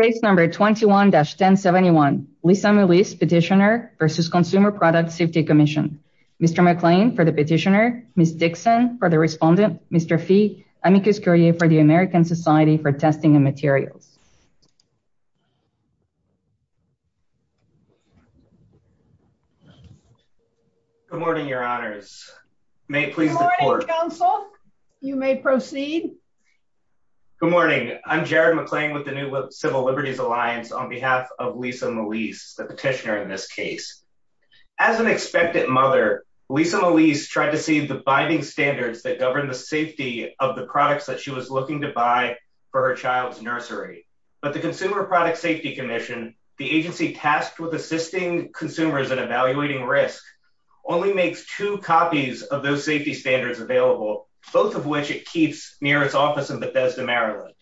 Case number 21-1071, Lisa Milice petitioner versus Consumer Product Safety Commission. Mr. McClain for the petitioner, Ms. Dixon for the respondent, Mr. Fee, and Mr. Scurrier for the American Society for Testing and Materials. Good morning, your honors. May I please report? Good morning, counsel. You may proceed. Good morning. I'm Jared McClain with the New Civil Liberties Alliance on behalf of Lisa Milice, the petitioner in this case. As an expectant mother, Lisa Milice tried to see the binding standards that govern the safety of the products that she was looking to buy for her child's nursery. But the Consumer Product Safety Commission, the agency tasked with assisting consumers and evaluating risk, only makes two copies of those safety standards available, both of which it keeps near its office in Bethesda, Maryland.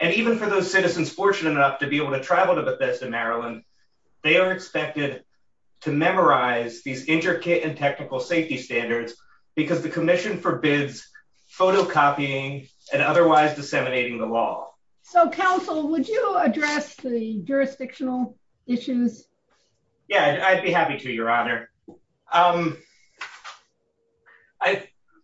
And even for those citizens fortunate enough to be able to travel to Bethesda, Maryland, they are expected to memorize these intricate and technical safety standards because the commission forbids photocopying and otherwise disseminating the law. So, counsel, would you address the jurisdictional issues? Yeah, I'd be happy to, your honor.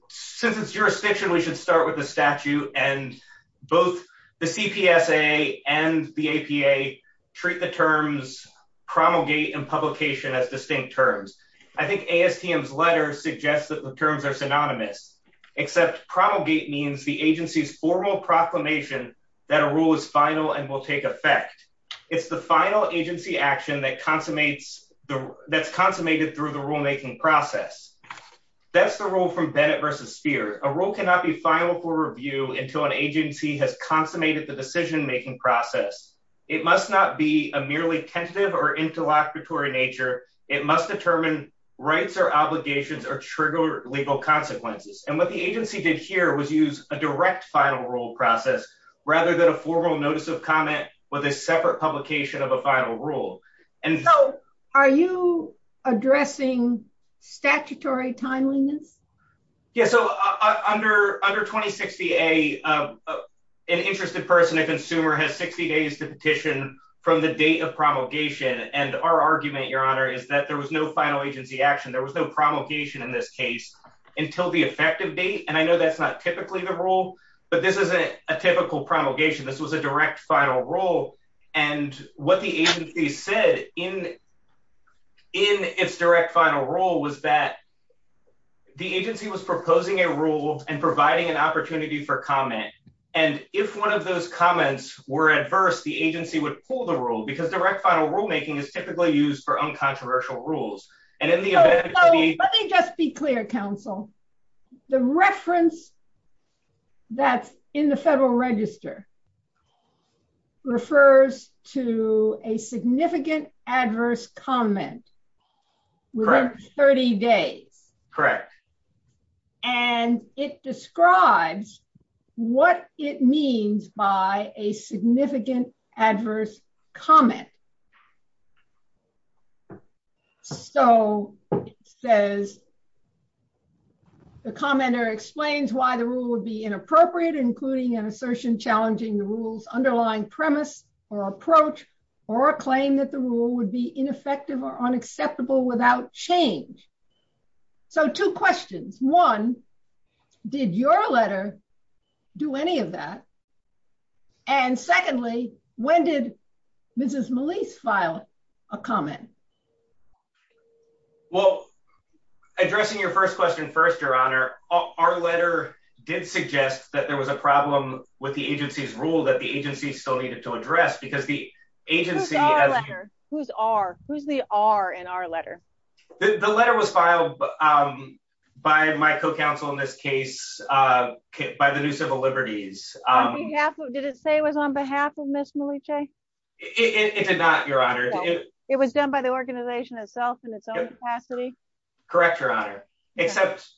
Since it's jurisdictional, we should start with the statute and both the CPSA and the APA treat the terms promulgate and publication as the same terms. I think ASTM's letter suggests that the terms are synonymous, except promulgate means the agency's formal proclamation that a rule is final and will take effect. It's the final agency action that's consummated through the rulemaking process. That's the rule from Bennett v. Speer. A rule cannot be final for review until an agency has consummated the decision-making process. It must not be a merely tentative or interlocutory nature. It must determine rights or obligations or trigger legal consequences. And what the agency did here was use a direct final rule process rather than a formal notice of comment with a separate publication of a final rule. So, are you addressing statutory timeliness? Yeah, so under 2060A, an interested person, a consumer has 60 days to petition from the date of promulgation. And our argument, your honor, is that there was no final agency action. There was no promulgation in this case until the effective date. And I know that's not typically the rule, but this isn't a typical promulgation. This was a direct final rule. And what the agency said in its direct final rule was that the agency was proposing a rule and providing an opportunity for comment. And if one of those comments were adverse, the agency would pull the rule because direct final rulemaking is typically used for uncontroversial rules. And in the event that the- Let me just be clear, counsel. The reference that's in the federal register refers to a significant adverse comment. Correct. With 30 days. Correct. And it describes what it means by a significant adverse comment. So, it says, the commenter explains why the rule would be inappropriate, including an assertion challenging the rule's underlying premise or approach, or a claim that the rule would be ineffective or unacceptable without change. So, two questions. One, did your letter do any of that? And secondly, when did Mrs. Malese file a comment? Well, addressing your first question first, Your Honor, our letter did suggest that there was a problem with the agency's rule that the agency still needed to address because the agency- Who's our letter? Who's our? Who's the are in our letter? The letter was filed by my co-counsel in this case, by the New Civil Liberties. Did it say it was on behalf of Ms. Malese? It did not, Your Honor. It was done by the organization itself in its own capacity? Correct, Your Honor. Except-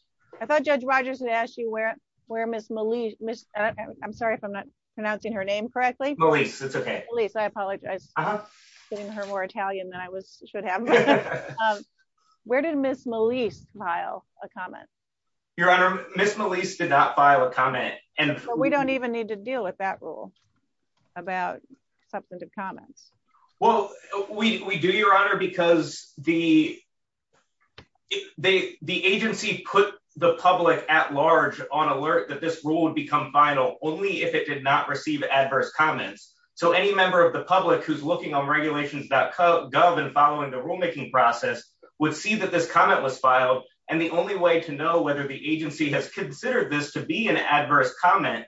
I thought Judge Rogers had asked you where Ms. Malese, I'm sorry if I'm not pronouncing her name correctly. Malese, it's okay. Malese, I apologize. I'm getting her more Italian than I should have. Where did Ms. Malese file a comment? Your Honor, Ms. Malese did not file a comment. We don't even need to deal with that rule about substantive comments. Well, we do, Your Honor, because the agency put the public at large on alert that this rule would become final only if it did not receive adverse comments. So any member of the public who's looking on regulations.gov and following the rulemaking process would see that this comment was filed. And the only way to know whether the agency has considered this to be an adverse comment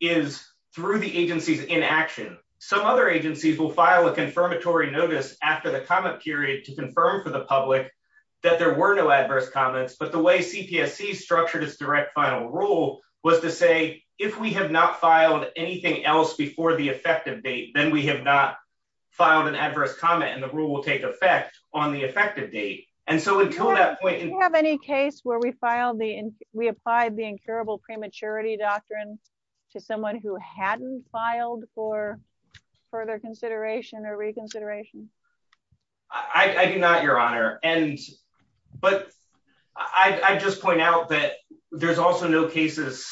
is through the agency's inaction. Some other agencies will file a confirmatory notice after the comment period to confirm for the public that there were no adverse comments. But the way CPSC structured its direct final rule was to say, if we have not filed anything else before the effective date, then we have not filed an adverse comment and the rule will take effect on the effective date. And so until that point- Do you have any case where we filed the, we applied the incurable prematurity doctrine to someone who hadn't filed for further consideration and a reconsideration? I do not, Your Honor. And, but I just point out that there's also no cases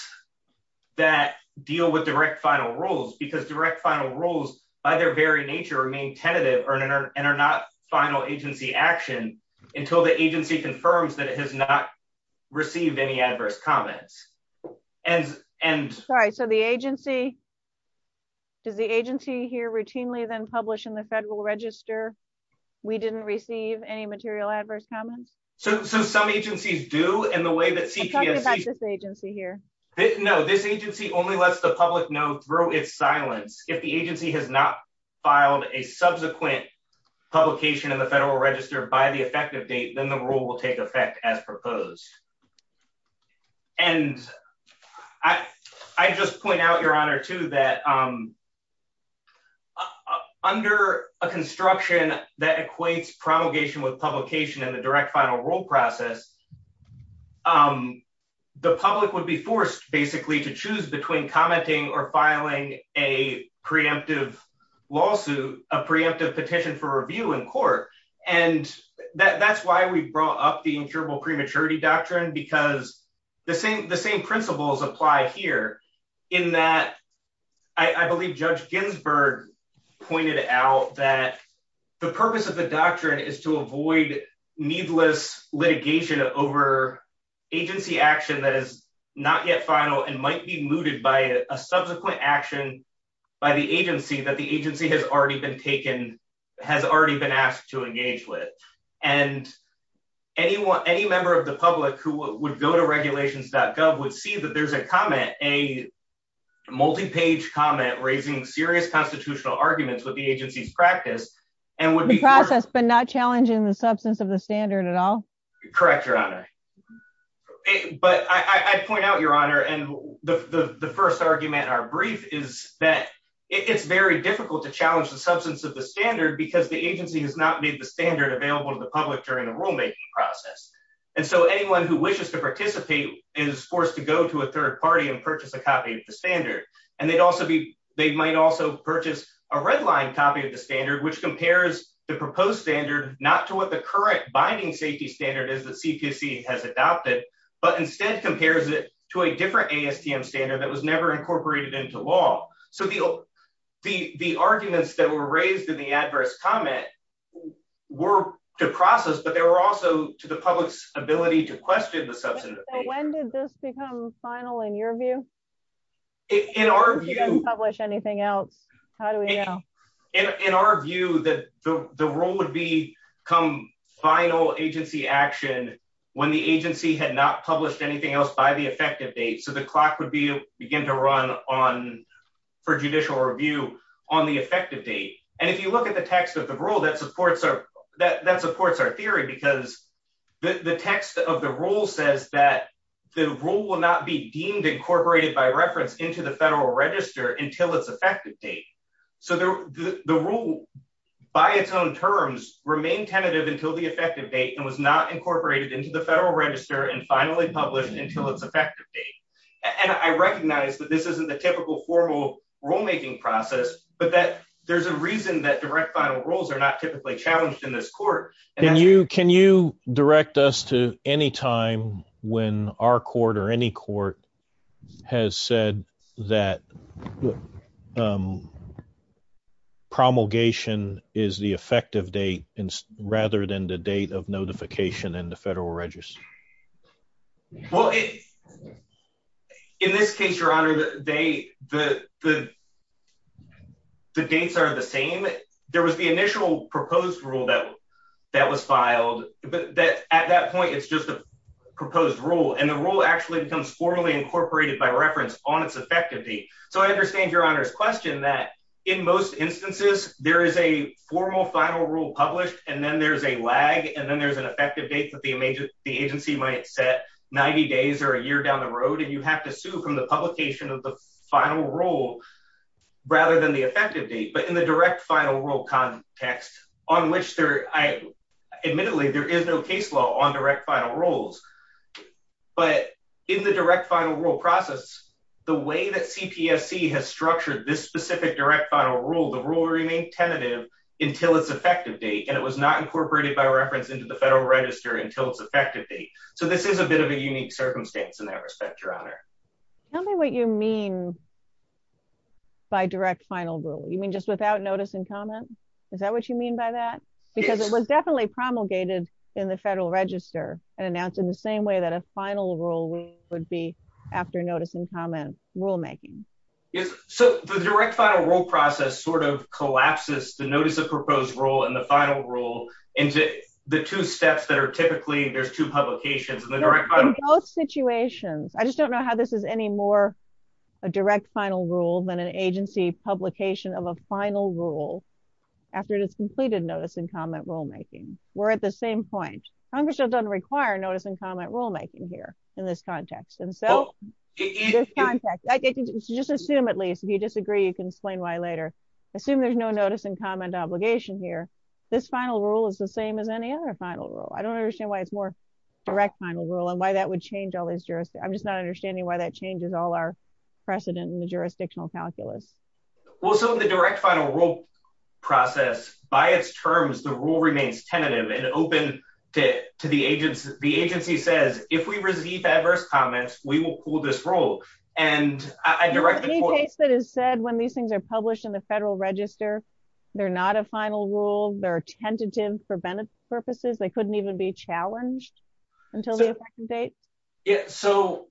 that deal with direct final rules because direct final rules, by their very nature, remain tentative and are not final agency action until the agency confirms that it has not received any adverse comments. Sorry, so the agency, does the agency here routinely then publish in the federal register, we didn't receive any material adverse comments? So some agencies do, and the way that CPSC- Tell me about this agency here. No, this agency only lets the public know through its silence. If the agency has not filed a subsequent publication in the federal register by the effective date, then the rule will take effect as proposed. And I just point out, Your Honor, too, that under a construction that equates promulgation with publication in the direct final rule process, the public would be forced, basically, to choose between commenting or filing a preemptive lawsuit, a preemptive petition for review in court. And that's why we brought up the incurable prematurity doctrine because the same principles apply here in that I believe Judge Ginsburg pointed out that the purpose of the doctrine is to avoid needless litigation over agency action that is not yet final and might be mooted by a subsequent action by the agency that the agency has already been taken, has already been asked to engage with. And any member of the public who would go to regulations.gov would see that there's a comment, a multi-page comment raising serious constitutional arguments with the agency's practice, and would be- The process, but not challenging the substance of the standard at all? Correct, Your Honor. But I point out, Your Honor, and the first argument in our brief is that it is very difficult to challenge the substance of the standard because the agency has not made the standard available to the public during the rulemaking process. And so anyone who wishes to participate is forced to go to a third party and purchase a copy of the standard. And they might also purchase a redline copy of the standard which compares the proposed standard not to what the correct binding safety standard is that CQC has adopted, but instead compares it to a different ASTM standard that was never incorporated into law. So the arguments that were raised in the adverse comment but they were also to the public's ability to question the substance of the standard. So when did this become final in your view? In our view- If you didn't publish anything else, how do we know? In our view, the rule would become final agency action when the agency had not published anything else by the effective date. So the clock would begin to run for judicial review on the effective date. And if you look at the text of the rule, that supports our theory because the text of the rule says that the rule will not be deemed incorporated by reference into the federal register until it's effective date. So the rule by its own terms remained tentative until the effective date and was not incorporated into the federal register and finally published until it's effective date. And I recognize that this isn't the typical formal rulemaking process, but that there's a reason that direct final rules are not typically challenged in this court. Can you direct us to any time when our court or any court has said that promulgation is the effective date rather than the date of notification in the federal register? Well, in this case, your honor, the dates are the same. There was the initial proposed rule that was filed. At that point, it's just a proposed rule. And the rule actually becomes formally incorporated by reference on its effective date. So I understand your honor's question that in most instances, there is a formal final rule published and then there's a lag and then there's an effective date that the agency might set 90 days or a year down the road. And you have to sue from the publication of the final rule rather than the effective date. But in the direct final rule context on which there, admittedly, there is no case law on direct final rules, but in the direct final rule process, the way that CPSC has structured this specific direct final rule, the rule remains tentative until its effective date. And it was not incorporated by reference into the federal register until its effective date. So this is a bit of a unique circumstance in that respect, your honor. Tell me what you mean by direct final rule. You mean just without notice and comment? Is that what you mean by that? Because it was definitely promulgated in the federal register and that's in the same way that a final rule would be after notice and comment rulemaking. Yes. So the direct final rule process sort of collapses the notice of proposed rule and the final rule into the two steps that are typically there's two publications and the direct final rule- In both situations. I just don't know how this is any more a direct final rule than an agency publication of a final rule after it has completed notice and comment rulemaking. We're at the same point. Congress doesn't require notice and comment rulemaking here in this context. And so in this context, just assume at least, if you disagree, you can explain why later. Assume there's no notice and comment obligation here. This final rule is the same as any other final rule. I don't understand why it's more direct final rule and why that would change all these jurisdictions. I'm just not understanding why that changes all our precedent in the jurisdictional calculus. Well, so in the direct final rule process, by its terms, the rule remains tentative and open to the agency. The agency says, if we receive adverse comments, we will pull this rule. And I directly- In the case that is said, when these things are published in the federal register, they're not a final rule. They're tentative for benefits purposes. They couldn't even be challenged until the second date. Yeah, so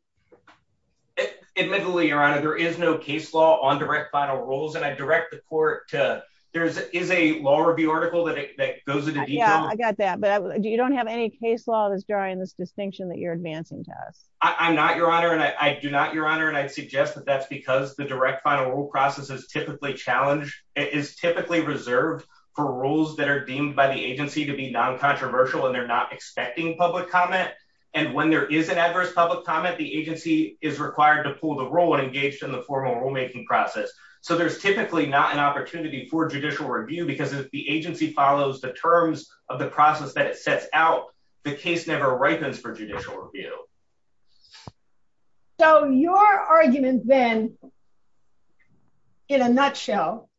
admittedly, Your Honor, there is no case law on direct final rules. And I direct the court to, there is a law review article that goes into detail. Yeah, I got that. But you don't have any case law that's drawing this distinction that you're advancing to us? I'm not, Your Honor, and I do not, Your Honor. And I suggest that that's because the direct final rule process is typically challenged, is typically reserved for rules that are deemed by the agency to be non-controversial and they're not expecting public comment. And when there is an adverse public comment, the agency is required to pull the rule and engage in the formal rulemaking process. So there's typically not an opportunity for judicial review because if the agency follows the terms of the process that it sets out, the case never arises for judicial review. So your argument then, in a nutshell,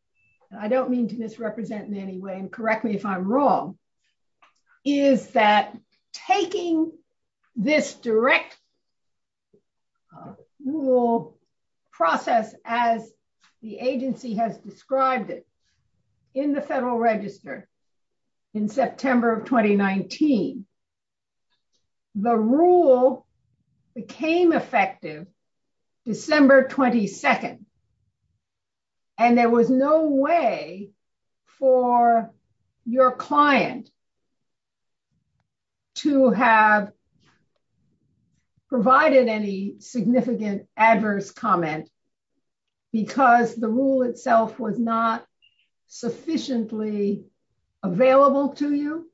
I don't mean to misrepresent in any way, and correct me if I'm wrong, is that taking this direct rule process as the agency has described it in the Federal Register in September of 2019, the rule became effective December 22nd. And there was no way for your client to have provided any significant adverse comments because the rule itself was not sufficiently available to you?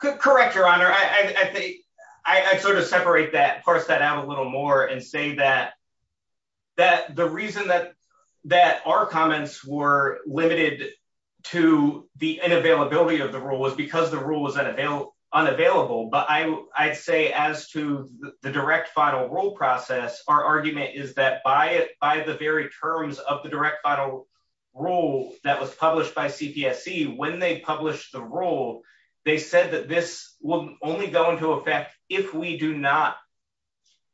Correct, Your Honor. I sort of separate that, parse that out a little more and say that the reason that our comments were limited to the inavailability of the rule was because the rule was unavailable. But I'd say as to the direct final rule process, our argument is that by the very terms of the direct final rule that was published by CPSC, when they published the rule, they said that this will only go into effect if we do not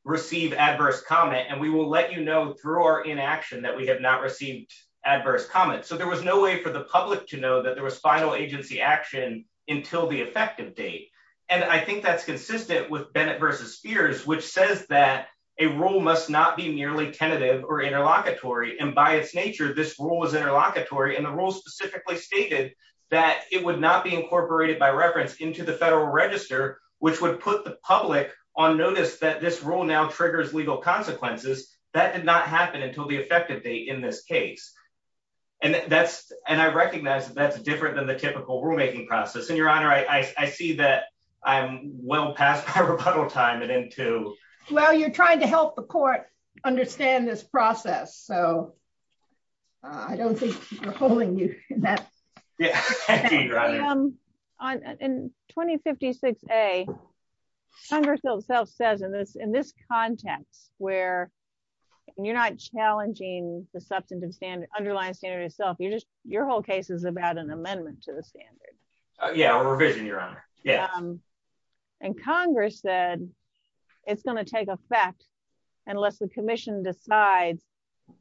receive adverse comment. And we will let you know through our inaction that we have not received adverse comments. So there was no way for the public to know that there was final agency action until the effective date. And I think that's consistent with Bennett v. Spears, which says that a rule must not be merely tentative or interlocutory. And by its nature, this rule was interlocutory. And the rule specifically stated that it would not be incorporated by reference into the Federal Register, which would put the public on notice that this rule now triggers legal consequences. That did not happen until the effective date in this case. And I recognize that that's different than the typical rulemaking process. And Your Honor, I see that I'm well past our rebuttal time. Well, you're trying to help the court understand this process. So I don't think we're holding you. Yeah. In 2056A, Congress itself says in this context where you're not challenging the underlying standard itself, your whole case is about an amendment to the standard. Yeah, a revision, Your Honor. Yeah. And Congress said it's going to take effect unless the commission decides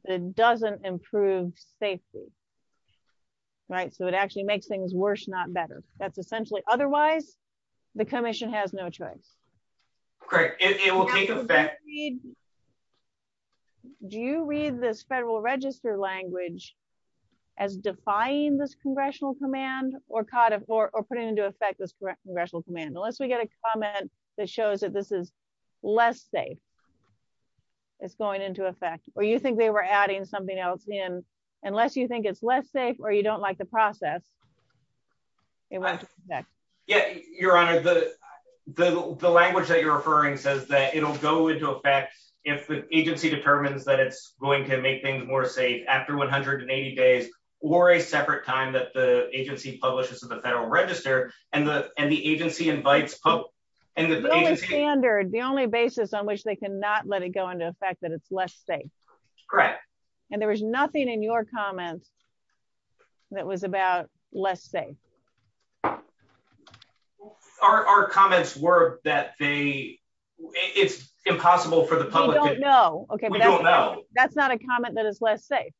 that it doesn't improve safety. Right? So it actually makes things worse, not better. That's essentially... Otherwise, the commission has no choice. Great. Do you read this Federal Register language as defying this congressional command or putting into effect this congressional command? Unless we get a comment that shows that this is less safe, it's going into effect. Or you think they were adding something else in. Unless you think it's less safe or you don't like the process, it went into effect. Yeah, Your Honor, the language that you're referring says that it'll go into effect if the agency determines that it's going to make things more safe after 180 days or a separate time that the agency publishes to the Federal Register and the agency invites hope. It's the only standard, the only basis on which they cannot let it go into effect that it's less safe. Correct. And there was nothing in your comments that was about less safe. Our comments were that they... It's impossible for the public... We don't know. Okay, we don't know. That's not a comment that it's less safe.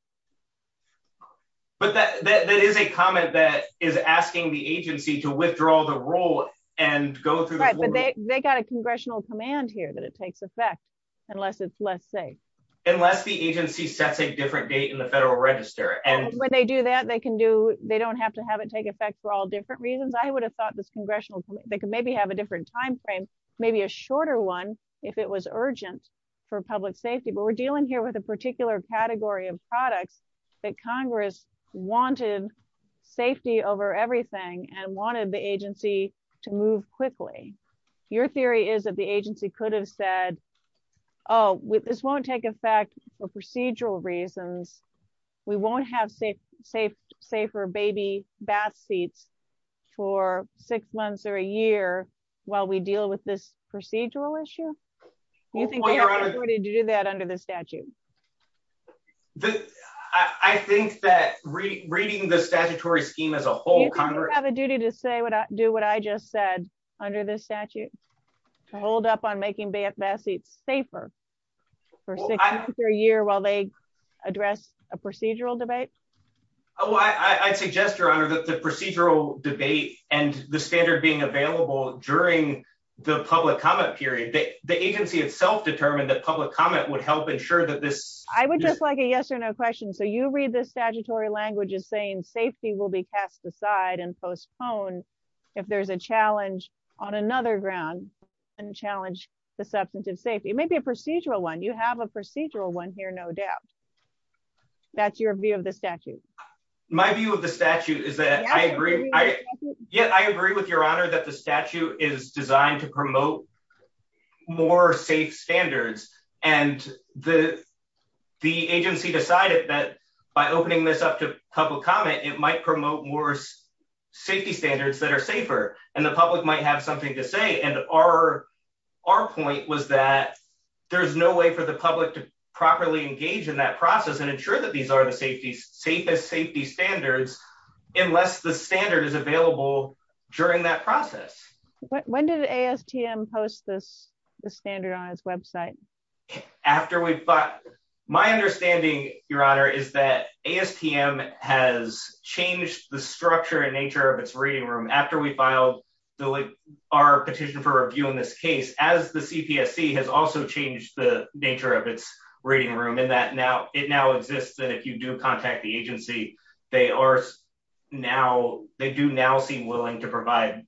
But that is a comment that is asking the agency to withdraw the rule and go through... They got a congressional command here that it takes effect unless it's less safe. Unless the agency sets a different date in the Federal Register and... When they do that, they can do... They don't have to have it take effect for all different reasons. I would have thought this congressional... They could maybe have a different timeframe, maybe a shorter one if it was urgent for public safety. But we're dealing here with a particular category of products that Congress wanted safety over everything and wanted the agency to move quickly. Your theory is that the agency could have said, oh, this won't take effect for procedural reasons. We won't have safer baby bath seats for six months or a year while we deal with this procedural issue? Do you think you have a duty to do that under the statute? I think that reading the statutory scheme as a whole Congress... Do you think you have a duty to do what I just said under this statute? To hold up on making bath seats safer for six months or a year while they address a procedural debate? Oh, I suggest, Your Honor, that the procedural debate and the standard being available during the public comment period, the agency itself determined that public comment would help ensure that this... I would just like a yes or no question. So you read this statutory language as saying safety will be passed aside and postponed if there's a challenge on another ground and challenge the substance of safety. Maybe a procedural one. You have a procedural one here, no doubt. That's your view of the statute. My view of the statute is that I agree. Yeah, I agree with Your Honor that the statute is designed to promote more safe standards and the agency decided that by opening this up to public comment, it might promote more safety standards that are safer and the public might have something to say. And our point was that there's no way for the public to properly engage in that process and ensure that these are the safest safety standards unless the standard is available during that process. When did ASTM post this standard on its website? My understanding, Your Honor, is that ASTM has changed the structure and nature of its reading room after we filed our petition for review in this case as the CPSC has also changed the nature of its reading room in that it now exists that if you do contact the agency, they do now seem willing to provide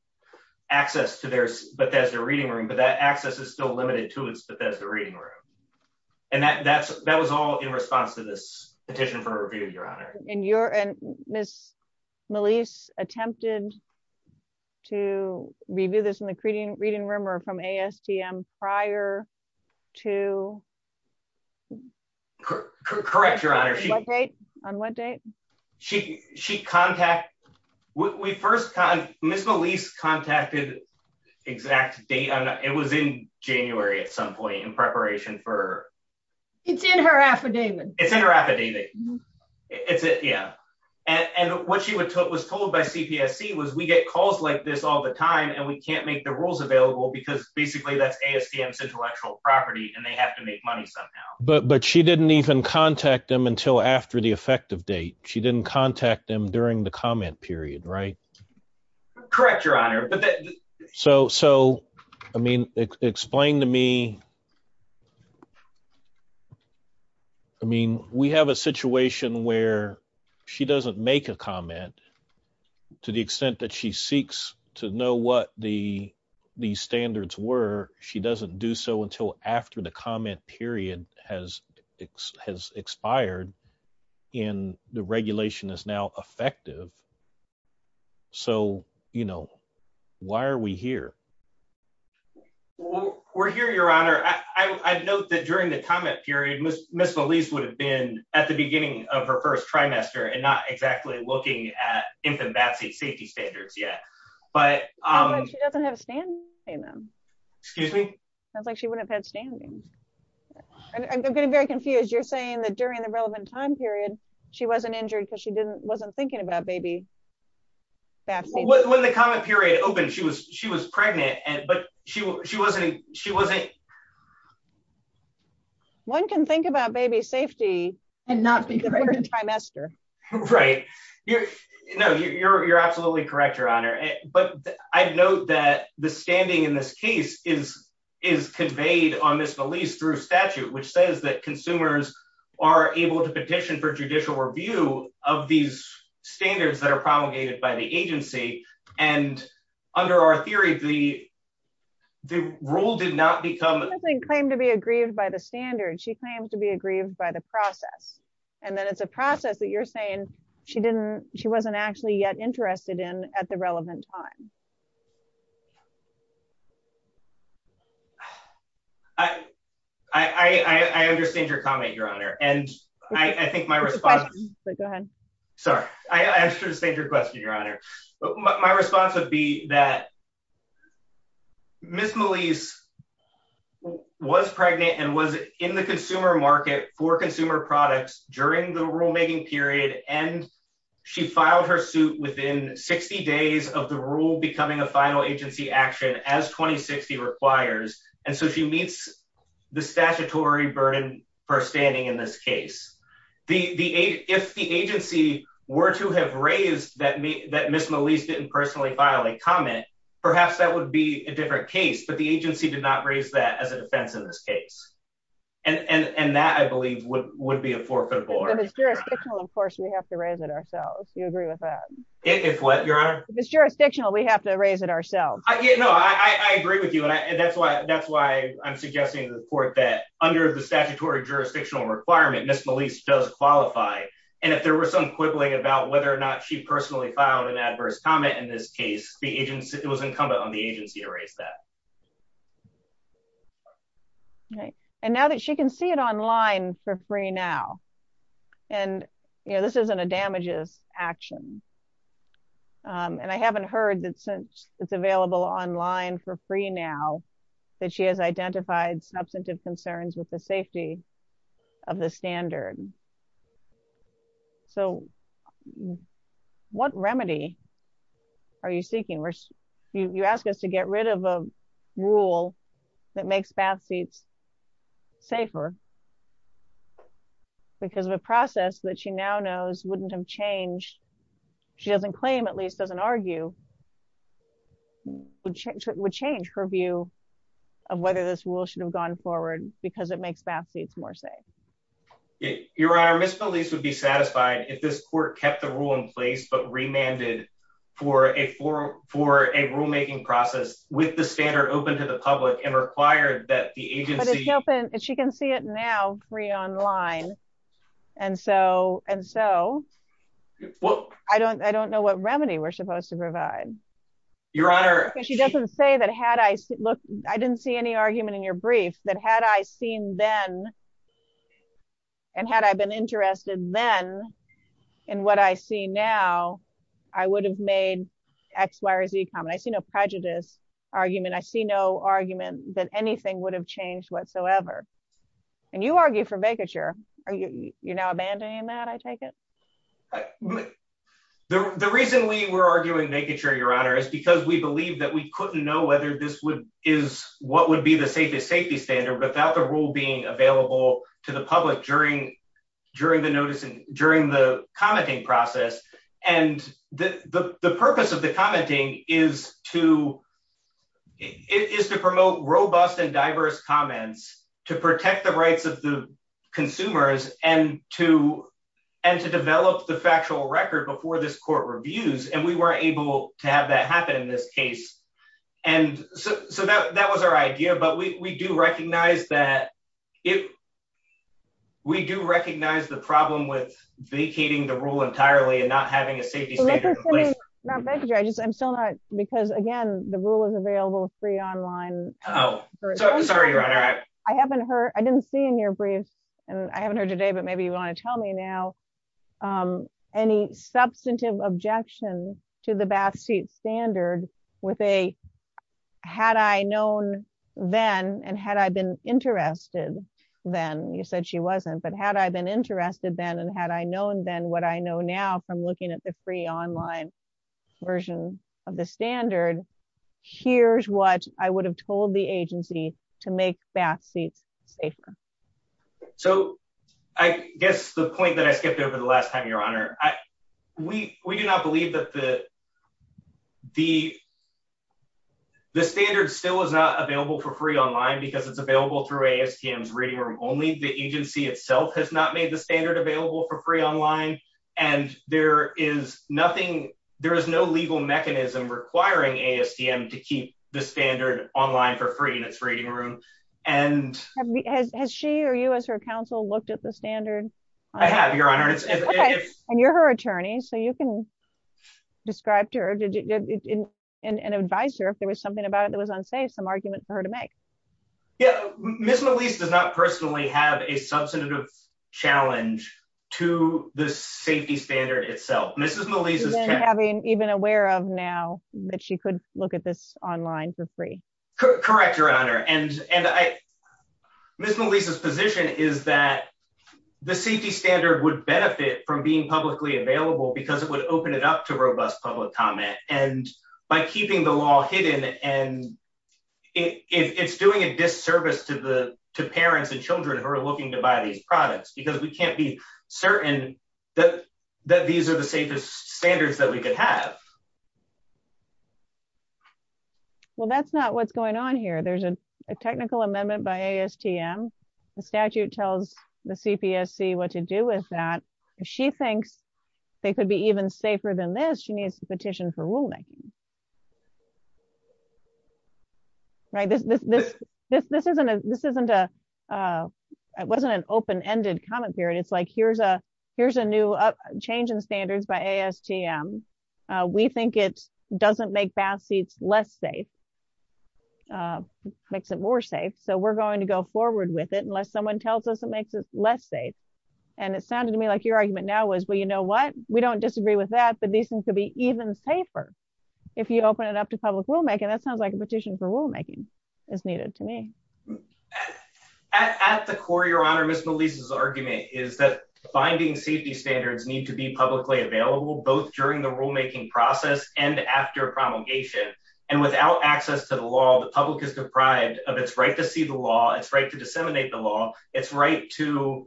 access to Bethesda Reading Room, but that access is still limited to Bethesda Reading Room. Your Honor. And Ms. Melisse attempted to review this in the reading room or from ASTM prior to... Correct, Your Honor. On what date? She contacted... Ms. Melisse contacted the exact date. It was in January at some point in preparation for... It's in her affidavit. It's in her affidavit. Is it? Yeah. And what she was told by CPSC was we get calls like this all the time and we can't make the rules available because basically that's ASTM's intellectual property and they have to make money somehow. But she didn't even contact them until after the effective date. She didn't contact them during the comment period, right? Correct, Your Honor. So, I mean, explain to me... I mean, we have a situation where she doesn't make a comment to the extent that she seeks to know what the standards were. She doesn't do so until after the comment period has expired and the regulation is now effective. We're here, Your Honor. I'd note that during the comment period, Ms. Melisse would have been at the beginning of her first trimester and not exactly looking at infant vaccine safety standards yet. She doesn't have standing in them. Excuse me? Sounds like she wouldn't have had standing. I'm getting very confused. You're saying that during the relevant time period, she wasn't injured because she wasn't thinking about baby vaccines? When the comment period opened, she was pregnant, but she wasn't... One can think about baby safety and not think of first trimester. Right. No, you're absolutely correct, Your Honor. But I'd note that the standing in this case is conveyed on Ms. Melisse through statute, which says that consumers are able to petition for judicial review of these standards that are promulgated by the agency. And under our theory, the rule did not become... She doesn't claim to be aggrieved by the standards. She claims to be aggrieved by the process. And that it's a process that you're saying she wasn't actually yet interested in at the relevant time. I understand your comment, Your Honor. And I think my response... Go ahead. Sorry. I understand your question, Your Honor. My response would be that Ms. Melisse was pregnant and was in the consumer market for consumer products during the rulemaking period. And she filed her suit within 60 days of the rule becoming a final agency action as 2060 requires. And so she meets the statutory burden for standing in this case. If the agency were to have raised that Ms. Melisse didn't personally file a comment, perhaps that would be a different case. But the agency did not raise that as a defense in this case. And that I believe would be a forfeit for her. And the jurisdictional enforcement, we have to raise it ourselves. Do you agree with that? Yes, Your Honor. The jurisdictional, we have to raise it ourselves. No, I agree with you. And that's why I'm suggesting to the court that under the statutory jurisdictional requirement, Ms. Melisse does qualify. And if there were some quibbling about whether or not she personally filed an adverse comment in this case, it was incumbent on the agency to raise that. And now that she can see it online for free now. And this isn't a damages action. And I haven't heard that since it's available online for free now that she has identified substantive concerns with the safety of the standard. So what remedy are you seeking? You asked us to get rid of a rule that makes bath seats safer. Because of the process that she now knows wouldn't have changed. She doesn't claim, at least doesn't argue, would change her view of whether this rule should have gone forward because it makes bath seats more safe. Your Honor, Ms. Melisse would be satisfied if this court kept the rule in place, but remanded for a rule-making process with the standard open to the public and required that the agency- But she can see it now free online. And so, I don't know what remedy we're supposed to provide. Your Honor- She doesn't say that had I, look, I didn't see any argument in your brief that had I seen then, and had I been interested then in what I see now, I would have made X, Y, or Z comment. I see no prejudice argument. I see no argument that anything would have changed whatsoever. And you argue for vacature. Are you now abandoning that, I take it? The reason we were arguing vacature, Your Honor, is because we believe that we couldn't know is what would be the safest safety standard without the rule being available to the public during the commenting process. And the purpose of the commenting is to promote robust and diverse comments to protect the rights of the consumers and to develop the factual record before this court reviews. And we weren't able to have that happen in this case. And so that was our idea. But we do recognize that if, we do recognize the problem with vacating the rule entirely and not having a safety standard in place. And this is something, not vacature, I just, I'm still not, because again, the rule is available free online. Oh, sorry, Your Honor. I haven't heard, I didn't see in your brief, and I haven't heard today, but maybe you want to tell me now, any substantive objection to the backseat standard with a, had I known then, and had I been interested then, you said she wasn't, but had I been interested then, and had I known then what I know now from looking at the free online version of the standard, here's what I would have told the agency to make backseat safer. So I guess the point that I skipped over the last time, Your Honor, we do not believe that the standard still is not available for free online because it's available through ASTM's reading room. Only the agency itself has not made the standard available for free online. And there is nothing, there is no legal mechanism requiring ASTM to keep the standard online for free in its reading room. And- Has she or you as her counsel looked at the standard? I have, Your Honor. And you're her attorney, so you can describe to her and advise her if there was something about it that was unsafe, some arguments for her to make. Yeah, Ms. Melisa does not personally have a substantive challenge to the safety standard itself. Ms. Melisa- She's been aware of now that she could look at this online for free. Correct, Your Honor. And Ms. Melisa's position is that the safety standard would benefit from being publicly available because it would open it up to robust public comment. And by keeping the law hidden, and it's doing a disservice to the parents and children who are looking to buy these products because we can't be certain that these are the safest standards that we could have. Well, that's not what's going on here. There's a technical amendment by ASTM. The statute tells the CPSC what to do with that. If she thinks they could be even safer than this, she needs to petition for ruling. Right, this wasn't an open-ended comment period. It's like, here's a new change in standards by ASTM. We think it doesn't make bath seats less safe, makes it more safe. So we're going to go forward with it unless someone tells us it makes it less safe. And it sounded to me like your argument now was, well, you know what? We don't disagree with that, but these things could be even safer if you open it up to public rulemaking. That sounds like a petition for rulemaking is needed to me. At the core, Your Honor, Ms. Melisa's argument is that binding safety standards need to be publicly available, both during the rulemaking process and after promulgation. And without access to the law, the public is deprived of its right to see the law, its right to disseminate the law, its right to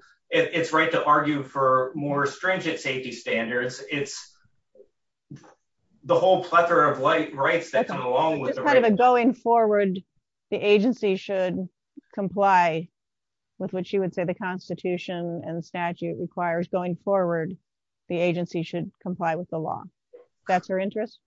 argue for more stringent safety standards. It's the whole plethora of rights that come along with the right- It's kind of a going forward, the agency should comply with what you would say the Constitution and statute requires. Going forward, the agency should comply with the law. That's her interest?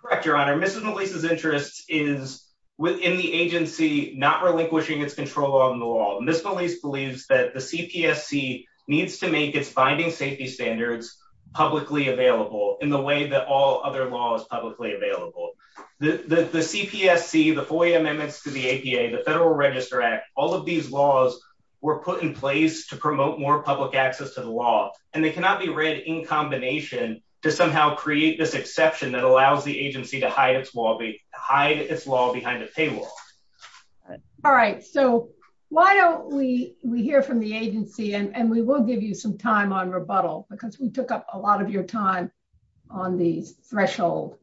Correct, Your Honor. Ms. Melisa's interest is, within the agency, not relinquishing its control on the law. Ms. Melisa believes that the CPSC needs to make its binding safety standards publicly available in the way that all other law is publicly available. The CPSC, the FOIA amendments to the APA, the Federal Register Act, all of these laws were put in place to promote more public access to the law, and they cannot be read in combination to somehow create this exception that allows the agency to hide its law, behind a table. All right. So why don't we hear from the agency, and we will give you some time on rebuttal, because we took up a lot of your time on the threshold.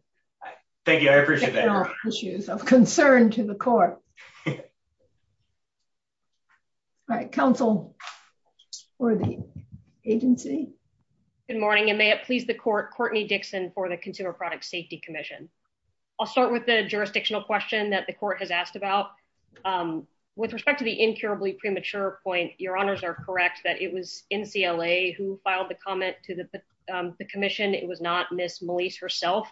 Thank you. I appreciate that. Issues of concern to the court. All right, counsel for the agency. Good morning, and may it please the court, Courtney Dixon, for the Consumer Product Safety Commission. I'll start with the jurisdictional question that the court has asked about. With respect to the incurably premature point, your honors are correct that it was NCLA who filed the comment to the commission. It was not Ms. Malise herself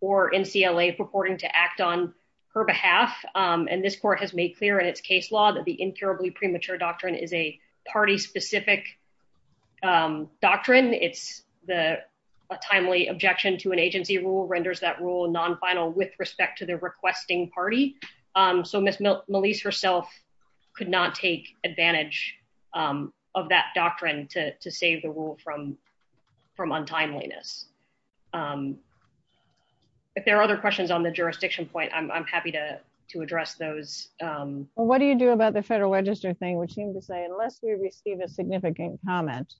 or NCLA purporting to act on her behalf. And this court has made clear in its case law that the incurably premature doctrine is a party-specific doctrine. It's a timely objection to an agency rule, renders that rule non-final with respect to the requesting party. So Ms. Malise herself could not take advantage of that doctrine to save the rule from untimeliness. If there are other questions on the jurisdiction point, I'm happy to address those. What do you do about the federal register thing, which seems to say, unless we receive a significant comment.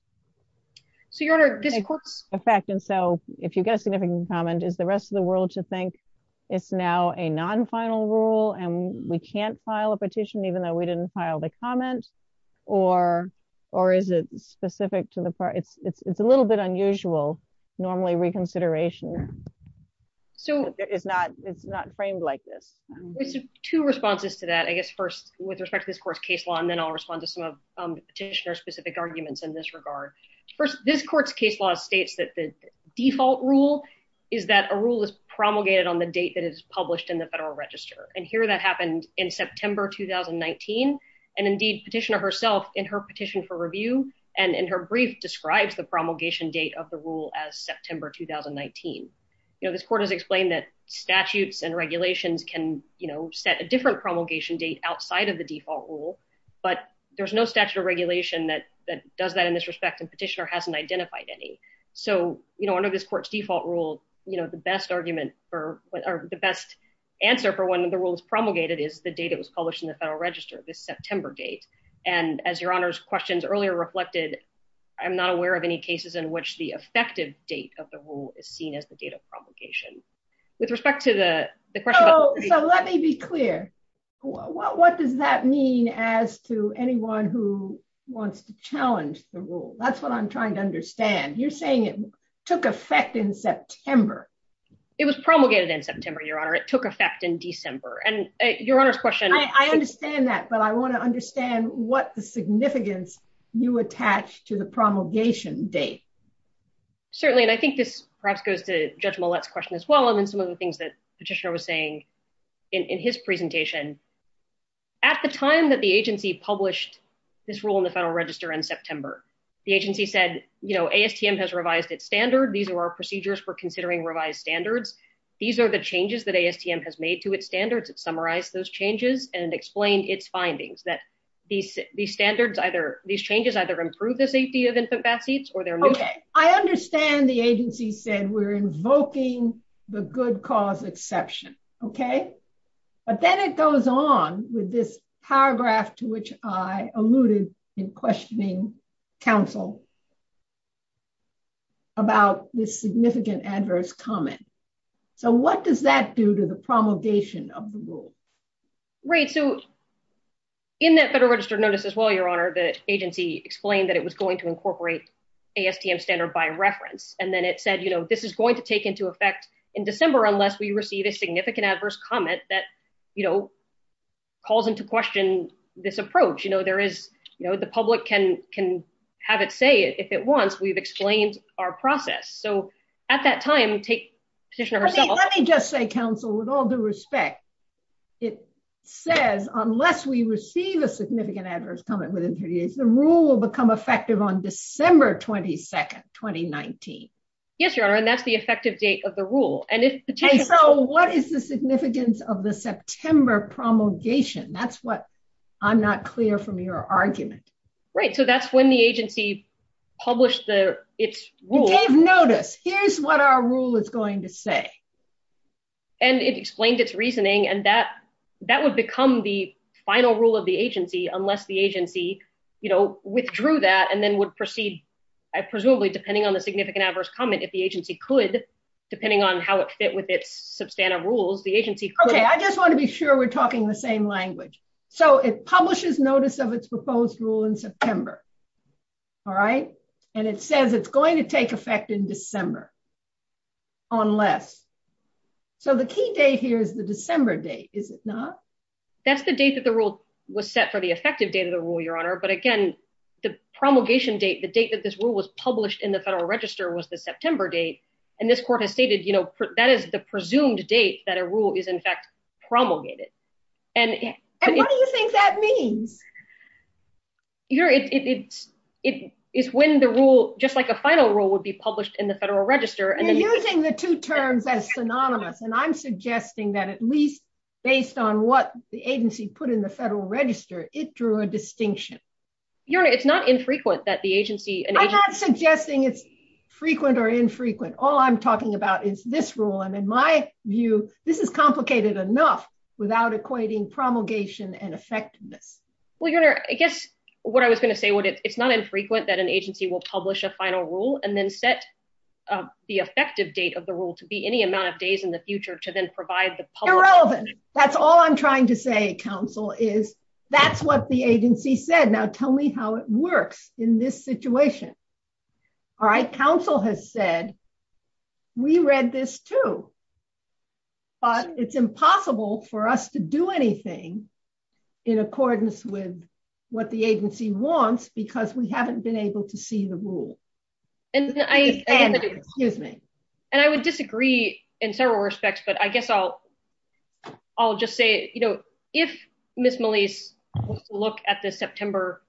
So your honor, did the court, in fact, and so if you get a significant comment, is the rest of the world to think it's now a non-final rule and we can't file a petition even though we didn't file the comment or is it specific to the part? It's a little bit unusual, normally reconsideration is not framed like this. Two responses to that, I guess first with respect to this court's case law and then I'll respond to some of the petitioner's specific arguments in this regard. First, this court's case law states that the default rule is that a rule is promulgated on the date that it's published in the federal register and here that happened in September, 2019 and indeed petitioner herself in her petition for review and in her brief describes the promulgation date of the rule as September, 2019. This court has explained that statutes and regulations can set a different promulgation date outside of the default rule, but there's no statute of regulation that does that in this respect and petitioner hasn't identified any. So under this court's default rule, the best argument or the best answer for when the rule is promulgated is the date it was published in the federal register, the September date and as your honor's questions earlier reflected, I'm not aware of any cases in which the effective date of the rule is seen as the date of promulgation. With respect to the question- So let me be clear, what does that mean as to anyone who wants to challenge the rule? That's what I'm trying to understand. You're saying it took effect in September. It was promulgated in September, your honor. It took effect in December and your honor's question- I understand that, but I want to understand what the significance you attach to the promulgation date. Certainly, and I think this perhaps goes to Judge Millett's question as well and some of the things that petitioner was saying in his presentation. At the time that the agency published this rule in the federal register in September, the agency said, ASTM has revised its standard. These were procedures for considering revised standards. These are the changes that ASTM has made to its standards. It summarized those changes and explained its findings that these standards either, these changes either improve the safety of infant bath seats or they're- Okay, I understand the agency said we're invoking the good cause exception, okay? But then it goes on with this paragraph to which I alluded in questioning counsel about this significant adverse comment. So what does that do to the promulgation of the rule? Right, so in that federal register notice as well, your honor, the agency explained that it was going to incorporate ASTM standard by reference. And then it said, this is going to take into effect in December unless we receive a significant adverse comment that calls into question this approach. There is, the public can have it say if it wants, we've explained our process. So at that time, we take- Let me just say, counsel, with all due respect, it says unless we receive a significant adverse comment within three days, the rule will become effective on December 22nd, 2019. Yes, your honor, and that's the effective date of the rule. And so what is the significance of the September promulgation? That's what I'm not clear from your argument. Right, so that's when the agency published its rule. You gave notice. Here's what our rule is going to say. And it explained its reasoning and that would become the final rule of the agency unless the agency withdrew that and then would proceed, presumably, depending on the significant adverse comment, if the agency could, depending on how it fit with its substantive rules, the agency could- Okay, I just want to be sure we're talking the same language. So it publishes notice of its proposed rule in September. All right, and it says it's going to take effect in December, unless... So the key date here is the December date, is it not? That's the date that the rule was set for the effective date of the rule, your honor. But again, the promulgation date, the date that this rule was published in the federal register was the September date. And this court has stated, that is the presumed date that a rule is in fact promulgated. And what do you think that means? Your Honor, it's when the rule, just like a final rule would be published in the federal register- You're using the two terms that's synonymous, and I'm suggesting that at least, based on what the agency put in the federal register, it drew a distinction. Your Honor, it's not infrequent that the agency- I'm not suggesting it's frequent or infrequent. All I'm talking about is this rule. And in my view, this is complicated enough without equating promulgation and effectiveness. Well, Your Honor, I guess what I was going to say, it's not infrequent that an agency will publish a final rule and then set the effective date of the rule to be any amount of days in the future to then provide the public- Irrelevant. That's all I'm trying to say, counsel, is that's what the agency said. Now, tell me how it works in this situation. All right, counsel has said, we read this too. But it's impossible for us to do anything in accordance with what the agency wants because we haven't been able to see the rule. And I would disagree in several respects, but I guess I'll just say, you know, if Ms. Melisse looked at the September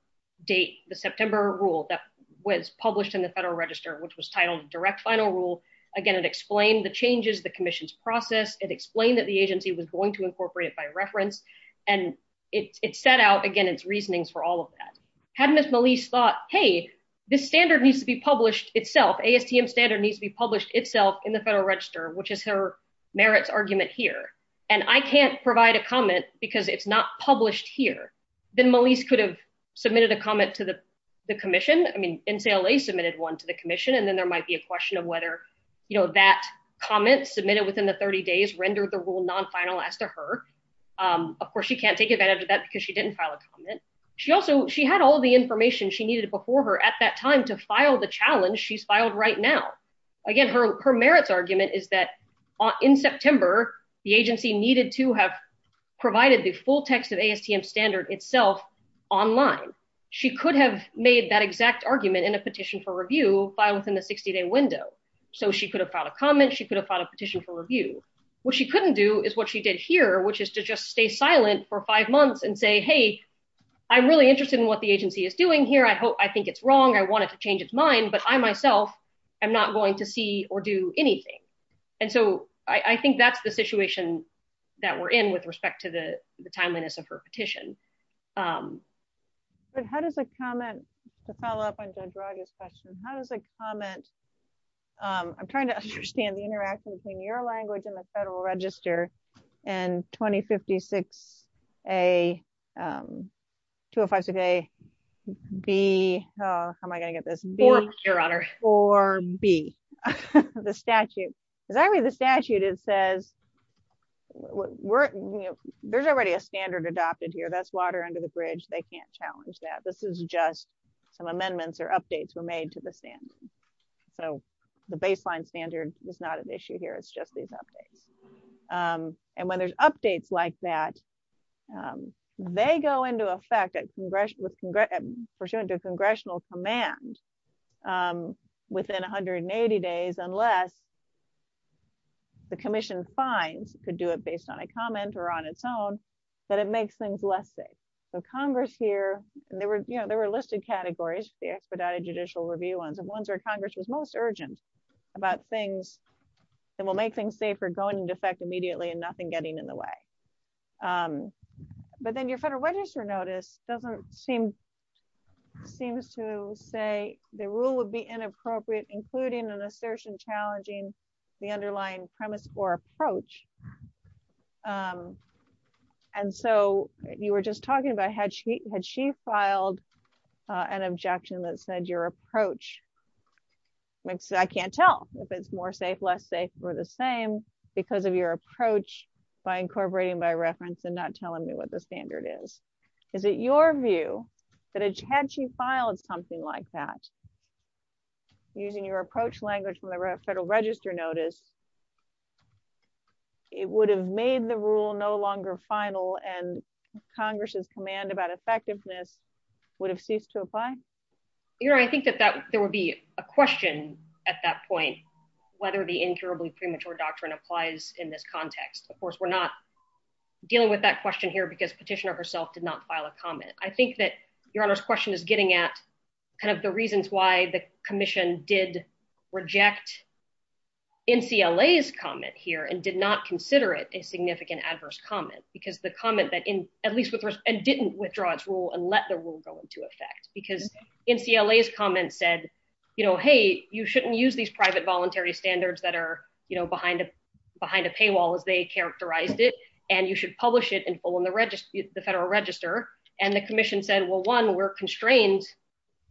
date, the September rule that was published in the Federal Register, which was titled Direct Final Rule, again, it explained the changes, the commission's process, it explained that the agency was going to incorporate it and it set out, again, its reasoning for all of that. Had Ms. Melisse thought, hey, this standard needs to be published itself. ASTM standard needs to be published itself in the Federal Register, which is her merits argument here. And I can't provide a comment because it's not published here. Then Melisse could have submitted a comment to the commission. I mean, NCLA submitted one to the commission, and then there might be a question of whether, you know, that comment submitted within the 30 days rendered the rule non-final after her. Of course, she can't take advantage of that because she didn't file a comment. She also, she had all the information she needed before her at that time to file the challenge she's filed right now. Again, her merits argument is that in September, the agency needed to have provided the full text of ASTM standard itself online. She could have made that exact argument in a petition for review filed within the 60 day window. So she could have filed a comment. She could have filed a petition for review. What she couldn't do is what she did here, which is to just stay silent for five months and say, hey, I'm really interested in what the agency is doing here. I hope, I think it's wrong. I want it to change its mind, but I myself, I'm not going to see or do anything. And so I think that's the situation that we're in with respect to the timeliness of her petition. But how does a comment, to follow up on Ben-Guraudi's question, how does a comment, I'm trying to understand the interaction between your language and the federal register and 2056A, 2056A, B, how am I going to get this? Four, Your Honor. 4B, the statute. The statute, it says, there's already a standard adopted here. That's water under the bridge. They can't challenge that. This is just some amendments or updates were made to the standard. So the baseline standard is not an issue here. It's just these updates. And when there's updates like that, they go into effect at congressional command within 180 days, unless the commission's fines could do it based on a comment or on its own, but it makes things less safe. So Congress here, there were listed categories, the expedited judicial review ones, and ones where Congress was most urgent about things that will make things safer going into effect immediately and nothing getting in the way. But then your federal register notice doesn't seem to say the rule would be inappropriate, including an assertion challenging the underlying premise or approach. And so you were just talking about had she filed an objection that said your approach, which I can't tell if it's more safe, less safe, or the same, because of your approach by incorporating by reference and not telling me what the standard is. Is it your view that had she filed something like that, using your approach language from the federal register notice, it would have made the rule no longer final and Congress's command about effectiveness would have ceased to apply? You know, I think that there would be a question at that point, whether the incurably premature doctrine applies in this context. Of course, we're not dealing with that question here because petitioner herself did not file a comment. I think that your Honor's question is getting at kind of the reasons why the commission did reject NCLA's comment here and did not consider it a significant adverse comment, because the comment that in, at least with, and didn't withdraw its rule and let the rule go into effect, because NCLA's comment said, you know, hey, you shouldn't use these private voluntary standards that are, you know, behind a paywall as they characterized it. And you should publish it and pull in the register, the federal register. And the commission said, well, one, we're constrained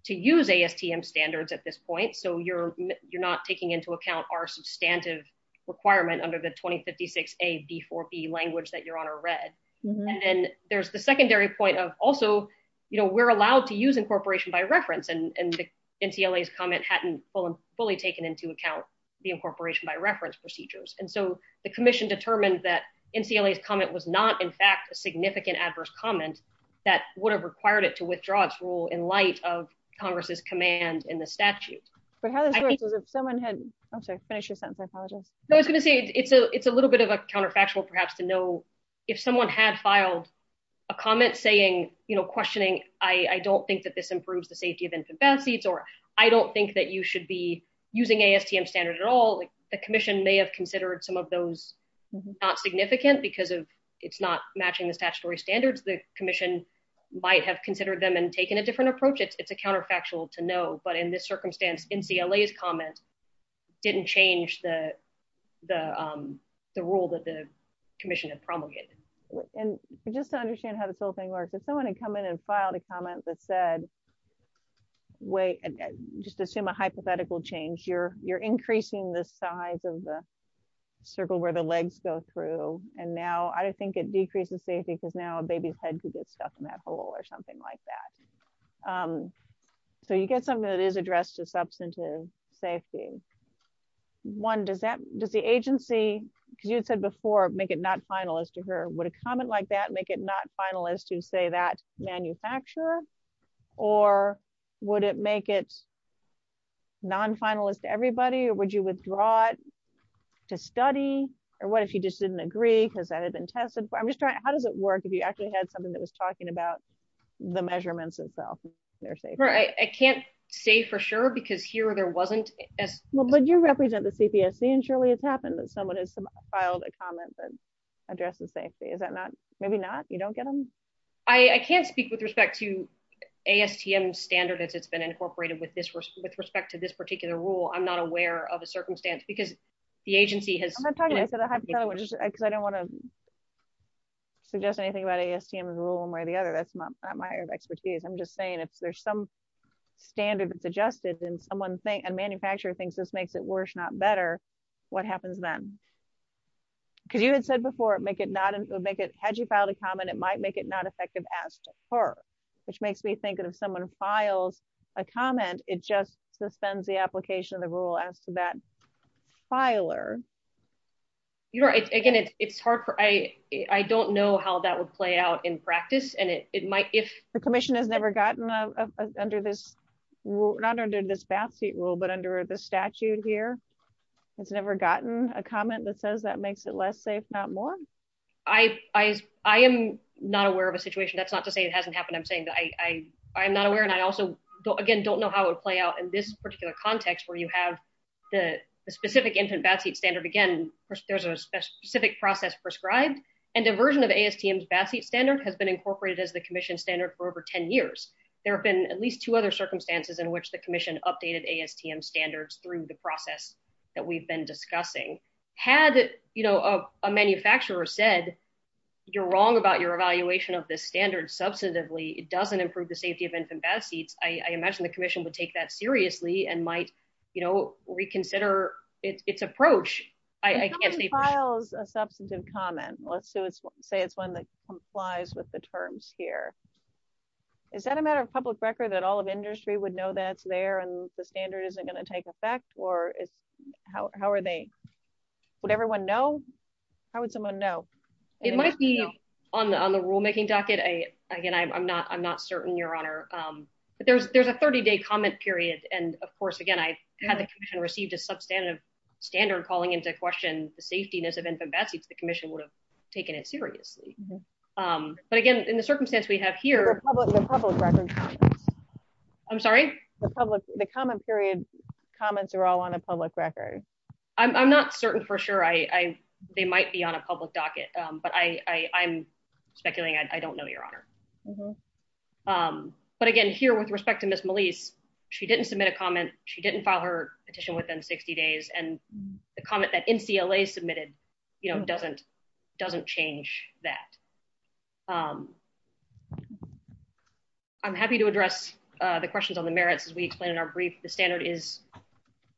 to use AFPM standards at this point. So you're not taking into account our substantive requirement under the 2056A-B4B language that your Honor read. And then there's the secondary point of also, you know, we're allowed to use incorporation by reference and NCLA's comment hadn't fully taken into account the incorporation by reference procedures. And so the commission determined that NCLA's comment was not, in fact, a significant adverse comment that would have required it to withdraw its rule in light of Congress's command in the statute. But how does this work, because if someone had, I'm sorry, finish your sentence, I apologize. No, I was gonna say, it's a little bit of a counterfactual perhaps to know if someone had filed a comment saying, you know, questioning, I don't think that this improves the safety of infant bath seats, or I don't think that you should be using ASTM standards at all. The commission may have considered some of those not significant because it's not matching the statutory standards. The commission might have considered them and taken a different approach. It's a counterfactual to know. But in this circumstance, NCLA's comment didn't change the rule that the commission had promulgated. And just to understand how this whole thing works, if someone had come in and filed a comment that said, wait, just assume a hypothetical change, you're increasing the size of the circle where the legs go through. And now I think it decreases safety because now a baby's head could get stuck in that hole or something like that. So you get something that is addressed to substantive safety. One, does the agency, because you said before, make it not finalist to her. Would a comment like that make it not finalist to say that manufacturer? Or would it make it non-finalist to everybody? Or would you withdraw it to study? Or what if you just didn't agree because that had been tested for? I'm just trying, how does it work if you actually had something that was talking about the measurements itself? I can't say for sure because here there wasn't. Well, but you represent the CPSC and surely it's happened that someone has filed a comment that addresses safety. Is that not, maybe not? You don't get them? I can't speak with respect to ASTM standard if it's been incorporated with respect to this particular rule. I'm not aware of a circumstance because the agency has- I'm not telling you, because I don't want to suggest anything about ASTM as a rule one way or the other. That's not my area of expertise. I'm just saying, if there's some standard suggested and a manufacturer thinks this makes it worse, not better, what happens then? Because you had said before, had you filed a comment, it might make it not effective as to her. Which makes me think that if someone files a comment, it just suspends the application of the rule as to that filer. You're right. Again, it's hard for- I don't know how that would play out in practice and it might, if- The commission has never gotten under this rule, not under this bath seat rule, but under the statute here. It's never gotten a comment that says that makes it less safe, not more? I am not aware of a situation. That's not to say it hasn't happened. I'm saying that I'm not aware and I also, again, don't know how it would play out in this particular context where you have the specific infant bath seat standard. Again, there's a specific process prescribed and diversion of ASTM's bath seat standard has been incorporated as the commission standard for over 10 years. There have been at least two other circumstances in which the commission updated ASTM standards through the process that we've been discussing. Had a manufacturer said, you're wrong about your evaluation of this standard substantively. It doesn't improve the safety of infant bath seats. I imagine the commission would take that seriously and might reconsider its approach. I can't say- It compiles a substantive comment. Let's say it's one that complies with the terms here. Is that a matter of public record that all of industry would know that's there and the standard isn't going to take effect? Or how are they? Would everyone know? How would someone know? It might be on the rule making again, I'm not certain your honor. But there's a 30-day comment period. And of course, again, I haven't received a substantive standard calling into question the safetiness of infant bath seats. The commission would have taken it seriously. But again, in the circumstance we have here- The public record. I'm sorry? The comment period comments are all on a public record. I'm not certain for sure. They might be on a public docket, but I'm speculating. I don't know your honor. But again, here, with respect to Ms. Melisse, she didn't submit a comment. She didn't file her petition within 60 days. And the comment that NCLA submitted, you know, doesn't change that. I'm happy to address the questions on the merits as we explain in our brief. The standard is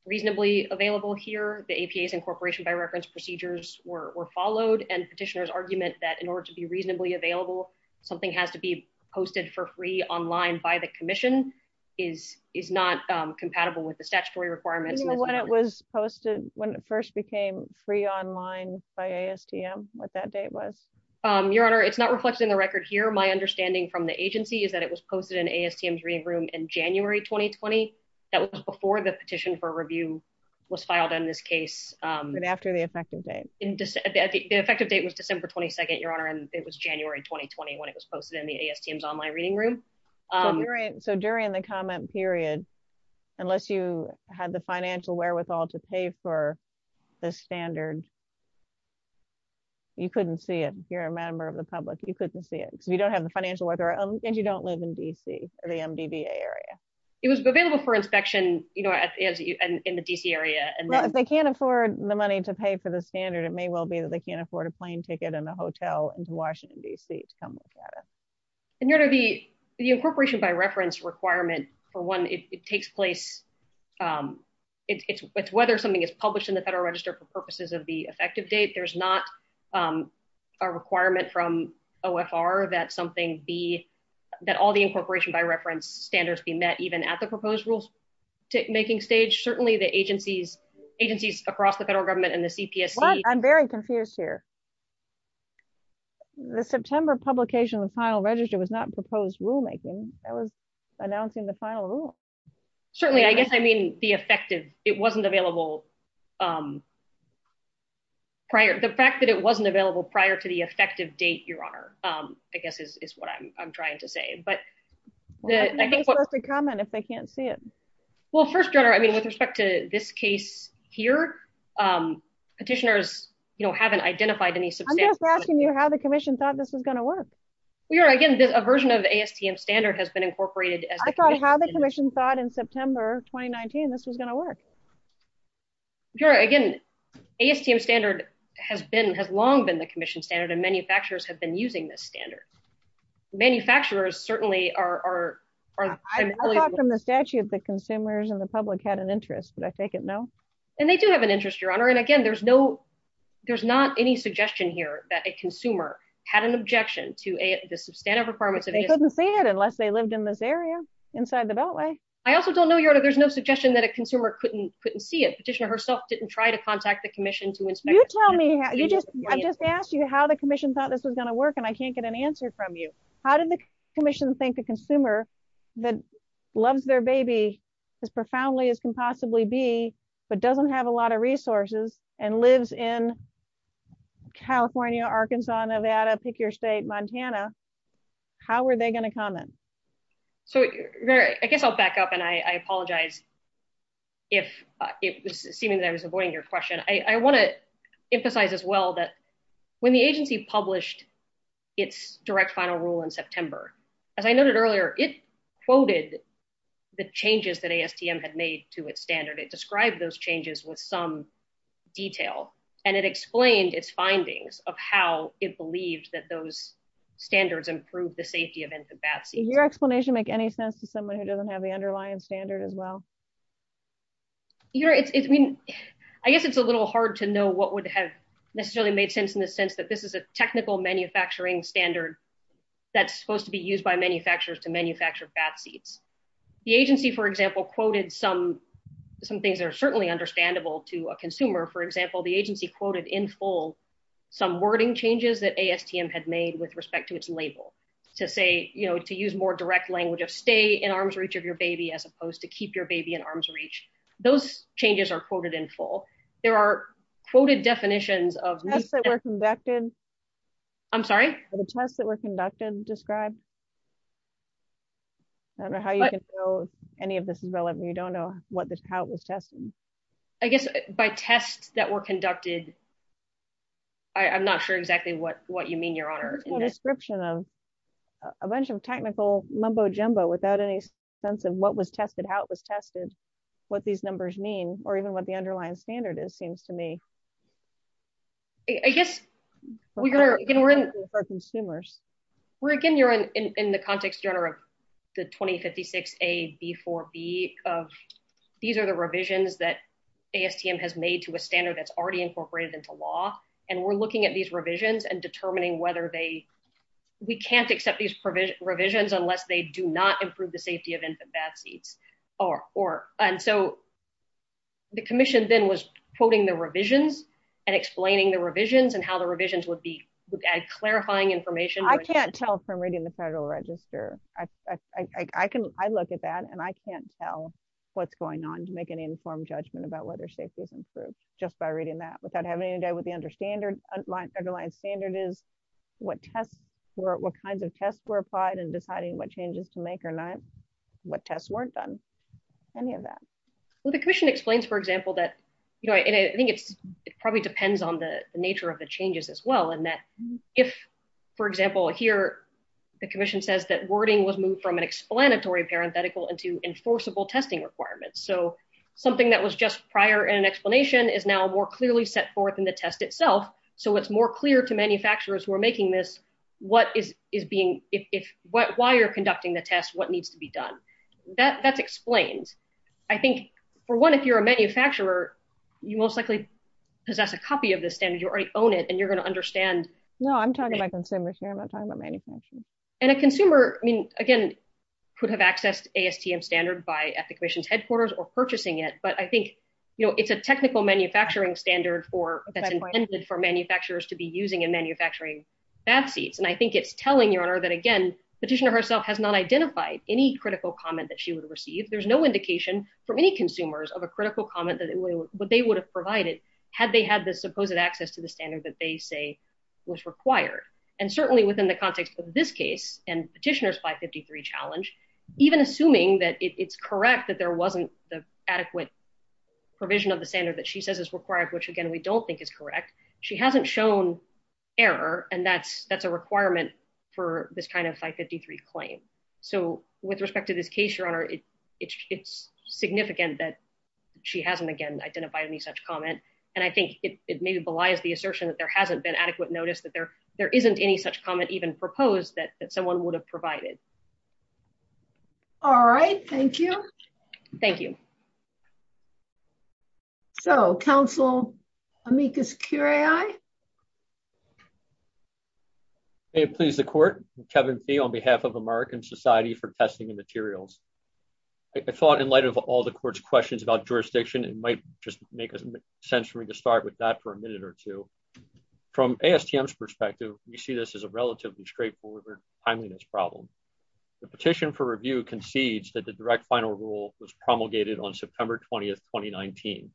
reasonably available here. The APA's incorporation by reference procedures were followed. And petitioner's argument that in order to be something has to be posted for free online by the commission is not compatible with the statutory requirements. Do you know when it was posted, when it first became free online by ASTM, what that date was? Your honor, it's not reflected in the record here. My understanding from the agency is that it was posted in ASTM's reading room in January 2020. That was before the petition for review was filed on this case. And after the effective date. The effective date was December 22nd, it was January 2020 when it was posted in the ASTM's online reading room. So during the comment period, unless you had the financial wherewithal to pay for the standard, you couldn't see it. If you're a member of the public, you couldn't see it. You don't have the financial wherewithal and you don't live in D.C. or the MDBA area. It was available for inspection, you know, in the D.C. area. If they can't afford the money to pay for the standard, it may well be that they can't afford a plane ticket and a hotel in Washington, D.C. And the incorporation by reference requirement, for one, it takes place, it's whether something is published in the Federal Register for purposes of the effective date. There's not a requirement from OFR that something be, that all the incorporation by reference standards be met even at the proposed rules making stage. Certainly the agencies across the federal government and the CPS. I'm very confused here. The September publication of the final register was not proposed rulemaking. That was announcing the final rule. Certainly. I guess I mean the effective, it wasn't available prior. The fact that it wasn't available prior to the effective date, Your Honor, I guess is what I'm trying to say. But the, I think, What's the comment if they can't see it? Well, first, Your Honor, I mean, with respect to this case here, petitioners haven't identified I'm just asking you how the commission thought this was going to work. We are, again, a version of ASTM standard has been incorporated. I thought how the commission thought in September 2019, this was going to work. Sure, again, ASTM standard has been, has long been the commission standard and manufacturers have been using this standard. Manufacturers certainly are. I thought from the statute that consumers and the public had an interest. Did I fake it? No. And they do have an interest, Your Honor. And again, there's no, there's not any suggestion here that a consumer had an objection to the substantive requirements. They couldn't see it unless they lived in this area inside the beltway. I also don't know, Your Honor, there's no suggestion that a consumer couldn't, couldn't see it. Petitioner herself didn't try to contact the commission to inspect. You tell me how you just, I just asked you how the commission thought this was going to work and I can't get an answer from you. How did the commission thank the consumer that loves their baby as profoundly as can possibly be, but doesn't have a lot of resources and lives in California, Arkansas, Nevada, pick your state, Montana. How were they going to comment? So I guess I'll back up and I apologize if it was seeming that I was avoiding your question. I want to emphasize as well that when the agency published its direct final rule in September, as I noted earlier, it quoted the changes that ASTM had made to its standard. It described those changes with some detail and it explained its findings of how it believed that those standards improved the safety events of Batsy. Did your explanation make any sense to someone who doesn't have the underlying standard as well? Yeah, I mean, I guess it's a little hard to know what would have necessarily made sense in the sense that this is a technical manufacturing standard that's supposed to be used by manufacturers to manufacture Batsy. The agency, for example, quoted some, some things that are understandable to a consumer. For example, the agency quoted in full some wording changes that ASTM had made with respect to its label to say, you know, to use more direct language of stay in arm's reach of your baby as opposed to keep your baby in arm's reach. Those changes are quoted in full. There are quoted definitions of- The tests that were conducted. I'm sorry? The tests that were conducted described. I don't know how you can know any of this development. You don't know what this, how it was tested. I guess by tests that were conducted. I'm not sure exactly what, what you mean, your honor. Description of a bunch of technical mumbo-jumbo without any sense of what was tested, how it was tested, what these numbers mean, or even what the underlying standard is, seems to me. I guess we're going to run for consumers. We're again, you're in the context, your honor, of the 2056A-B4B of, these are the revisions that ASTM has made to a standard that's already incorporated into law. And we're looking at these revisions and determining whether they, we can't accept these provisions unless they do not improve the safety of infant babies. And so the commission then was quoting the revisions and explaining the revisions and how the revisions would be, clarifying information. I can't tell from reading the federal register. I look at that and I can't tell what's going on to make an informed judgment about whether safety is improved just by reading that without having any doubt what the underlying standard is, what tests were, what kinds of tests were applied and deciding what changes to make or not, what tests weren't done, any of that. Well, the commission explains, for example, that, you know, I think it probably depends on the nature of the changes as well. And that if, for example, here, the commission says that wording was moved from an explanatory parenthetical into enforceable testing requirements. So something that was just prior in an explanation is now more clearly set forth in the test itself. So it's more clear to manufacturers who are making this, what is being, why you're conducting the test, what needs to be done. That's explained. I think, for one, if you're a manufacturer, you most likely possess a copy of this standard. You already own it and you're going to understand. No, I'm talking about consumers here. I'm not talking about manufacturers. And a consumer, I mean, again, could have accessed ASTM standard by the commission's headquarters or purchasing it. But I think, you know, it's a technical manufacturing standard for that intended for manufacturers to be using in manufacturing fast seats. And I think it's telling your honor that again, the petitioner herself has not identified any critical comment that she would receive. There's no indication for any consumers of a critical comment that they would have provided had they had the supposed access to the standard that they say was required. And certainly within the context of this case and petitioner's 553 challenge, even assuming that it's correct that there wasn't the adequate provision of the standard that she says is required, which again, we don't think is correct. She hasn't shown error. And that's a requirement for this kind of 553 claim. So with respect to this case, your honor, it's significant that she hasn't, again, identified any such comment. And I think it maybe belies the assertion that there hasn't been adequate notice that there isn't any such comment even proposed that someone would have provided. All right. Thank you. Thank you. So counsel, let me just carry on. It pleases the court, Kevin Fee on behalf of American Society for Testing and Materials. I thought in light of all the court's questions it might just make sense for me to start with that for a minute or two. From ASTM's perspective, we see this as a relatively straightforward timeliness problem. The petition for review concedes that the direct final rule was promulgated on September 20th, 2019.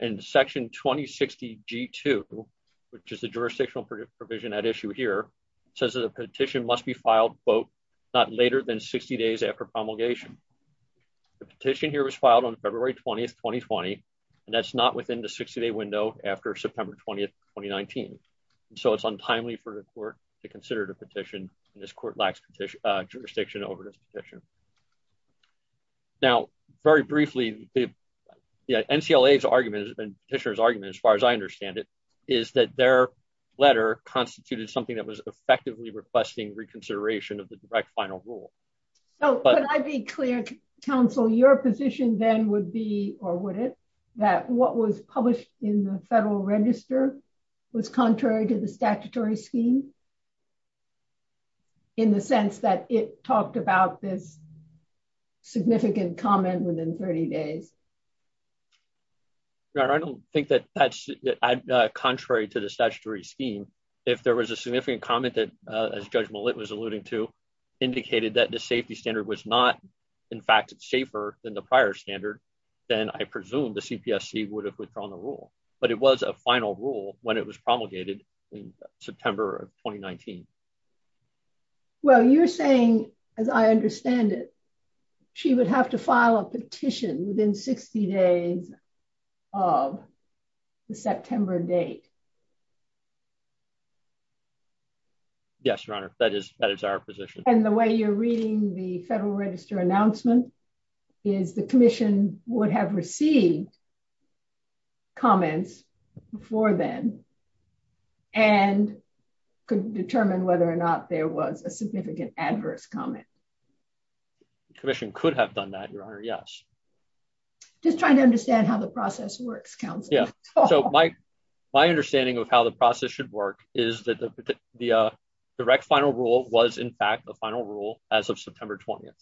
And section 2060 G2, which is the jurisdictional provision at issue here, says that a petition must be filed both not later than 60 days after promulgation. The petition here was filed on February 20th, 2020, and that's not within the 60 day window after September 20th, 2019. So it's untimely for the court to consider the petition. This court lacks jurisdiction over this petition. Now, very briefly, NCLA's argument, and petitioner's argument as far as I understand it, is that their letter constituted something that was effectively requesting reconsideration of the direct final rule. So could I be clear, counsel, your position then would be, or would it, that what was published in the federal register was contrary to the statutory scheme in the sense that it talked about this significant comment within 30 days? No, I don't think that that's contrary to the statutory scheme. If there was a significant comment that, as Judge Malit was alluding to, indicated that the safety standard was not, in fact, safer than the prior standard, then I presume the CPSC would have withdrawn the rule. But it was a final rule when it was promulgated in September of 2019. Well, you're saying, as I understand it, she would have to file a petition within 60 days of the September date. Yes, Your Honor, that is our position. And the way you're reading the federal register announcement is the commission would have received comments before then and could determine whether or not there was a significant adverse comment. The commission could have done that, Your Honor, yes. Just trying to understand how the process works, Counselor. Yeah, so my understanding of how the process should work is that the direct final rule was, in fact, the final rule as of September 20th.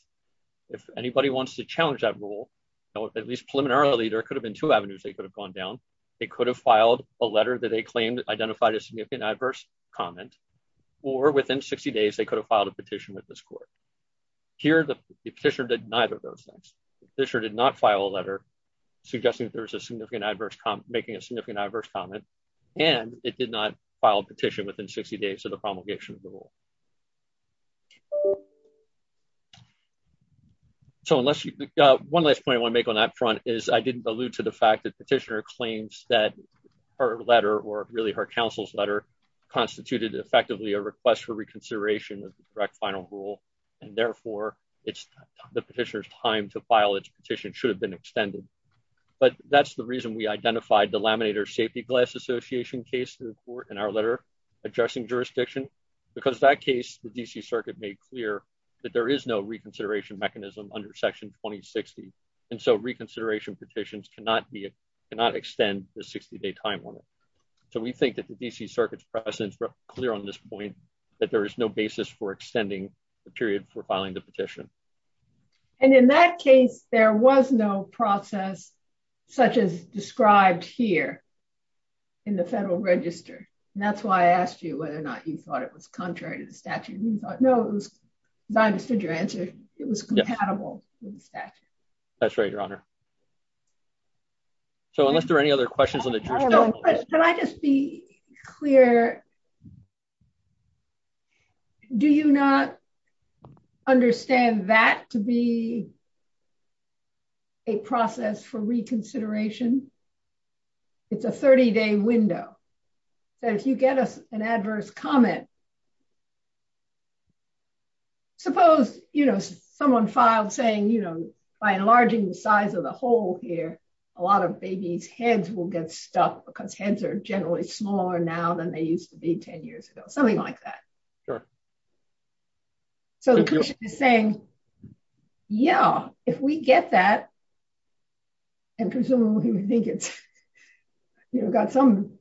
If anybody wants to challenge that rule, at least preliminarily, there could have been two avenues they could have gone down. They could have filed a letter that they claimed identified a significant adverse comment or within 60 days, they could have filed a petition with this court. Here, the petitioner did neither of those things. The petitioner did not file a letter suggesting that there's a significant adverse comment, making a significant adverse comment, and it did not file a petition within 60 days of the promulgation rule. So one last point I want to make on that front is I didn't allude to the fact that petitioner claims that her letter or really her counsel's letter constituted effectively a request for reconsideration of the direct final rule, and therefore it's the petitioner's time to file its petition should have been extended. But that's the reason we identified the Laminator Safety Glass Association case to the court in our letter addressing jurisdiction because that case, the D.C. Circuit made clear that there is no reconsideration mechanism under Section 2060. And so reconsideration petitions cannot be, cannot extend the 60-day time limit. So we think that the D.C. Circuit's precedent is clear on this point that there is no basis for extending the period for filing the petition. And in that case, there was no process such as described here in the Federal Register. That's why I asked you whether or not you thought it was contrary to the statute. You thought, no, it was not, I understood your answer, it was compatible with the statute. That's right, Your Honor. So unless there are any other questions. Can I just be clear? Do you not understand that to be a process for reconsideration? It's a 30-day window. So if you get an adverse comment, suppose, you know, someone filed saying, you know, by enlarging the size of the hole here, a lot of babies' heads will get stuck because heads are generally smaller now than they used to be 10 years ago, something like that. So you're saying, yeah, if we get that, and presumably we think it's, you know, got some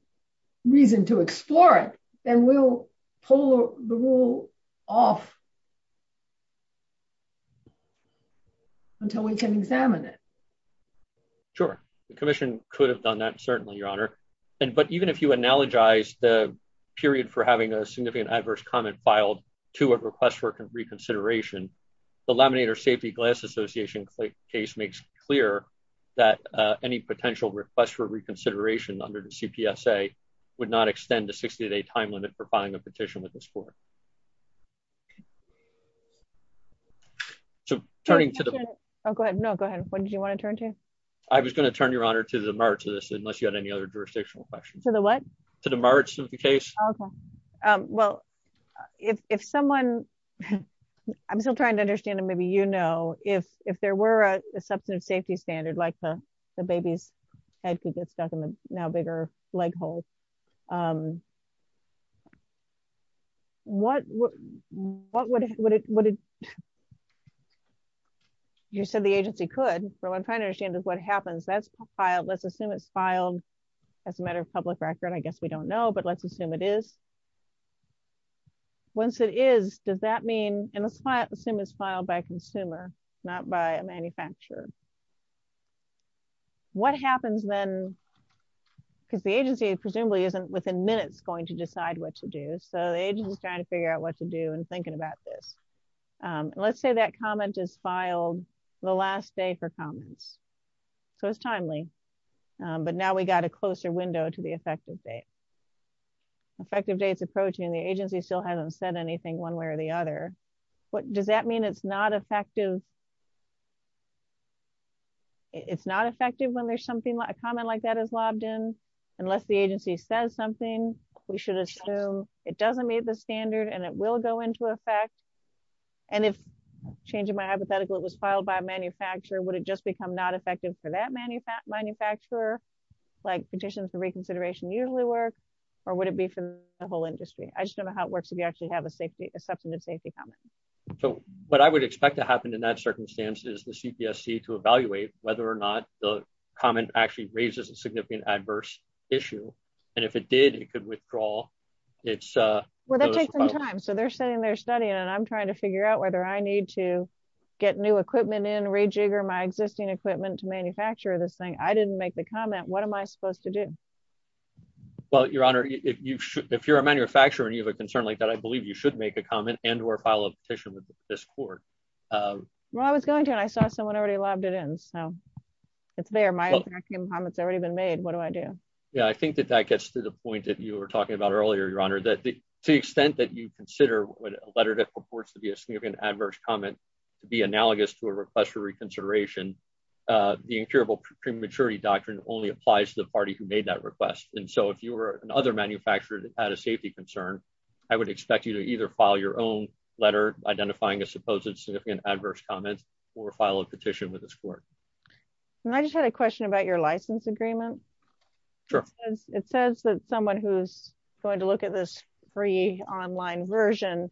reason to explore it, then we'll pull the rule off. Until we can examine it. Sure, the commission could have done that, certainly, Your Honor. And, but even if you analogize the period for having a significant adverse comment filed to a request for reconsideration, the Laminator Safety Glass Association case makes it clear that any potential request for reconsideration under the CPSA limit for filing a petition with this court. Thank you, Your Honor. I think that's a good point. So turning to the... Oh, go ahead. No, go ahead. What did you want to turn to? I was going to turn, Your Honor, to the March of this, unless you had any other jurisdictional questions. To the what? To the March of the case. Well, if someone, I'm still trying to understand and maybe you know, if there were a substantive safety standard, like the baby's head could get stuck in a now bigger leg hole, what would it... You said the agency could, but what I'm trying to understand is what happens. That's filed, let's assume it's filed as a matter of public record. I guess we don't know, but let's assume it is. Once it is, does that mean... And let's assume it's filed by a consumer, not by a manufacturer. What happens then, because the agency presumably isn't within minutes going to decide what to do. So the agency's trying to figure out what to do and thinking about this. Let's say that comment is filed the last day for comment. So it's timely, but now we got a closer window to the effective date. Effective date's approaching, the agency still hasn't said anything one way or the other. Does that mean it's not effective? It's not effective when there's something, a comment like that is lobbed in. Unless the agency says something, we should assume it doesn't meet the standard and it will go into effect. And if, changing my hypothetical, it was filed by a manufacturer, would it just become not effective for that manufacturer? Like conditions of reconsideration usually work, or would it be for the whole industry? I just don't know how it works if you actually have a safety, a safety comment. So what I would expect to happen in that circumstance is the CPSC to evaluate whether or not the comment actually raises a significant adverse issue. And if it did, it could withdraw its- Well, that takes some time. So they're sitting there studying and I'm trying to figure out whether I need to get new equipment in, rejigger my existing equipment to manufacture this thing. I didn't make the comment. What am I supposed to do? Well, Your Honor, if you're a manufacturer and you have a concern like that, I believe you should make a comment and or file a petition with this court. Well, I was going to and I saw someone already lobbed it in. So it's there. My comment's already been made. What do I do? Yeah, I think that that gets to the point that you were talking about earlier, Your Honor, that to the extent that you consider what a letter that purports to be a significant adverse comment to be analogous to a request for reconsideration, the incurable prematurity doctrine only applies to the party who made that request. And so if you were an other manufacturer that had a safety concern, I would expect you to either file your own letter identifying a supposed significant adverse comment or file a petition with this court. And I just had a question about your license agreement. It says that someone who's going to look at this free online version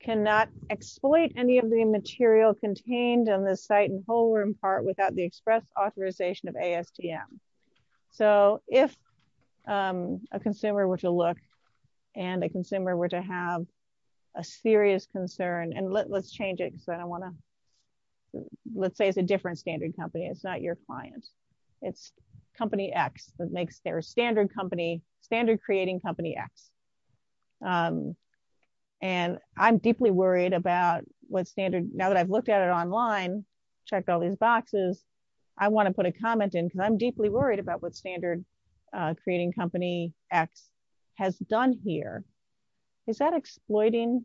cannot exploit any of the material contained on this site and whole room part without the express authorization of ASTM. So if a consumer were to look and a consumer were to have a serious concern and let's change it because I don't want to. Let's say it's a different standard company. It's not your client. It's company X that makes their standard company standard creating company X. And I'm deeply worried about what standard now that I've looked at it online, checked all these boxes. I want to put a comment in because I'm deeply worried about what standard creating company X has done here. Is that exploiting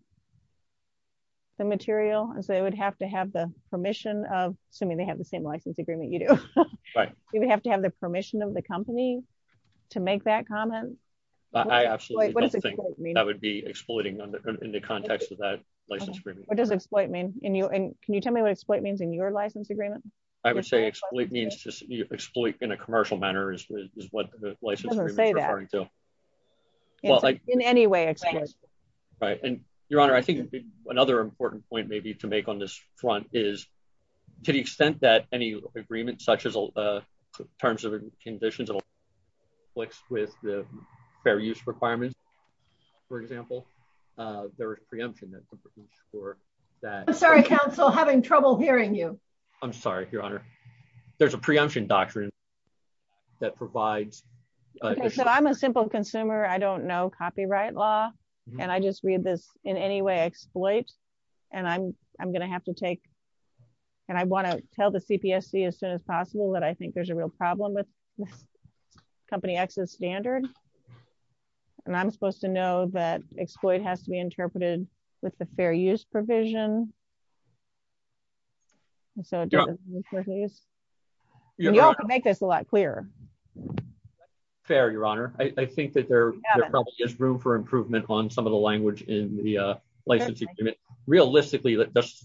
the material? And so they would have to have the permission of assuming they have the same license agreement. You do, right? You would have to have the permission of the company to make that comment. I absolutely don't think that would be exploiting them in the context of that license agreement. What does exploit mean in you? And can you tell me what exploit means in your license agreement? I would say exploit means just exploit in a commercial manner is what the license agreement is referring to. In any way. Right. And your honor, I think another important point maybe to make on this front is to the extent that any agreement such as terms of conditions with the fair use requirements, there is preemption for that. I'm sorry, counsel, having trouble hearing you. I'm sorry, your honor. There's a preemption doctrine that provides. I'm a simple consumer. I don't know copyright law. And I just read this in any way exploit. And I'm going to have to take. And I want to tell the CPSC as soon as possible that I think there's a real problem with company access standard. And I'm supposed to know that exploit has to be interpreted with the fair use provision. And so make this a lot clearer. Fair, your honor. I think that there is room for improvement on some of the language in the license agreement. Realistically,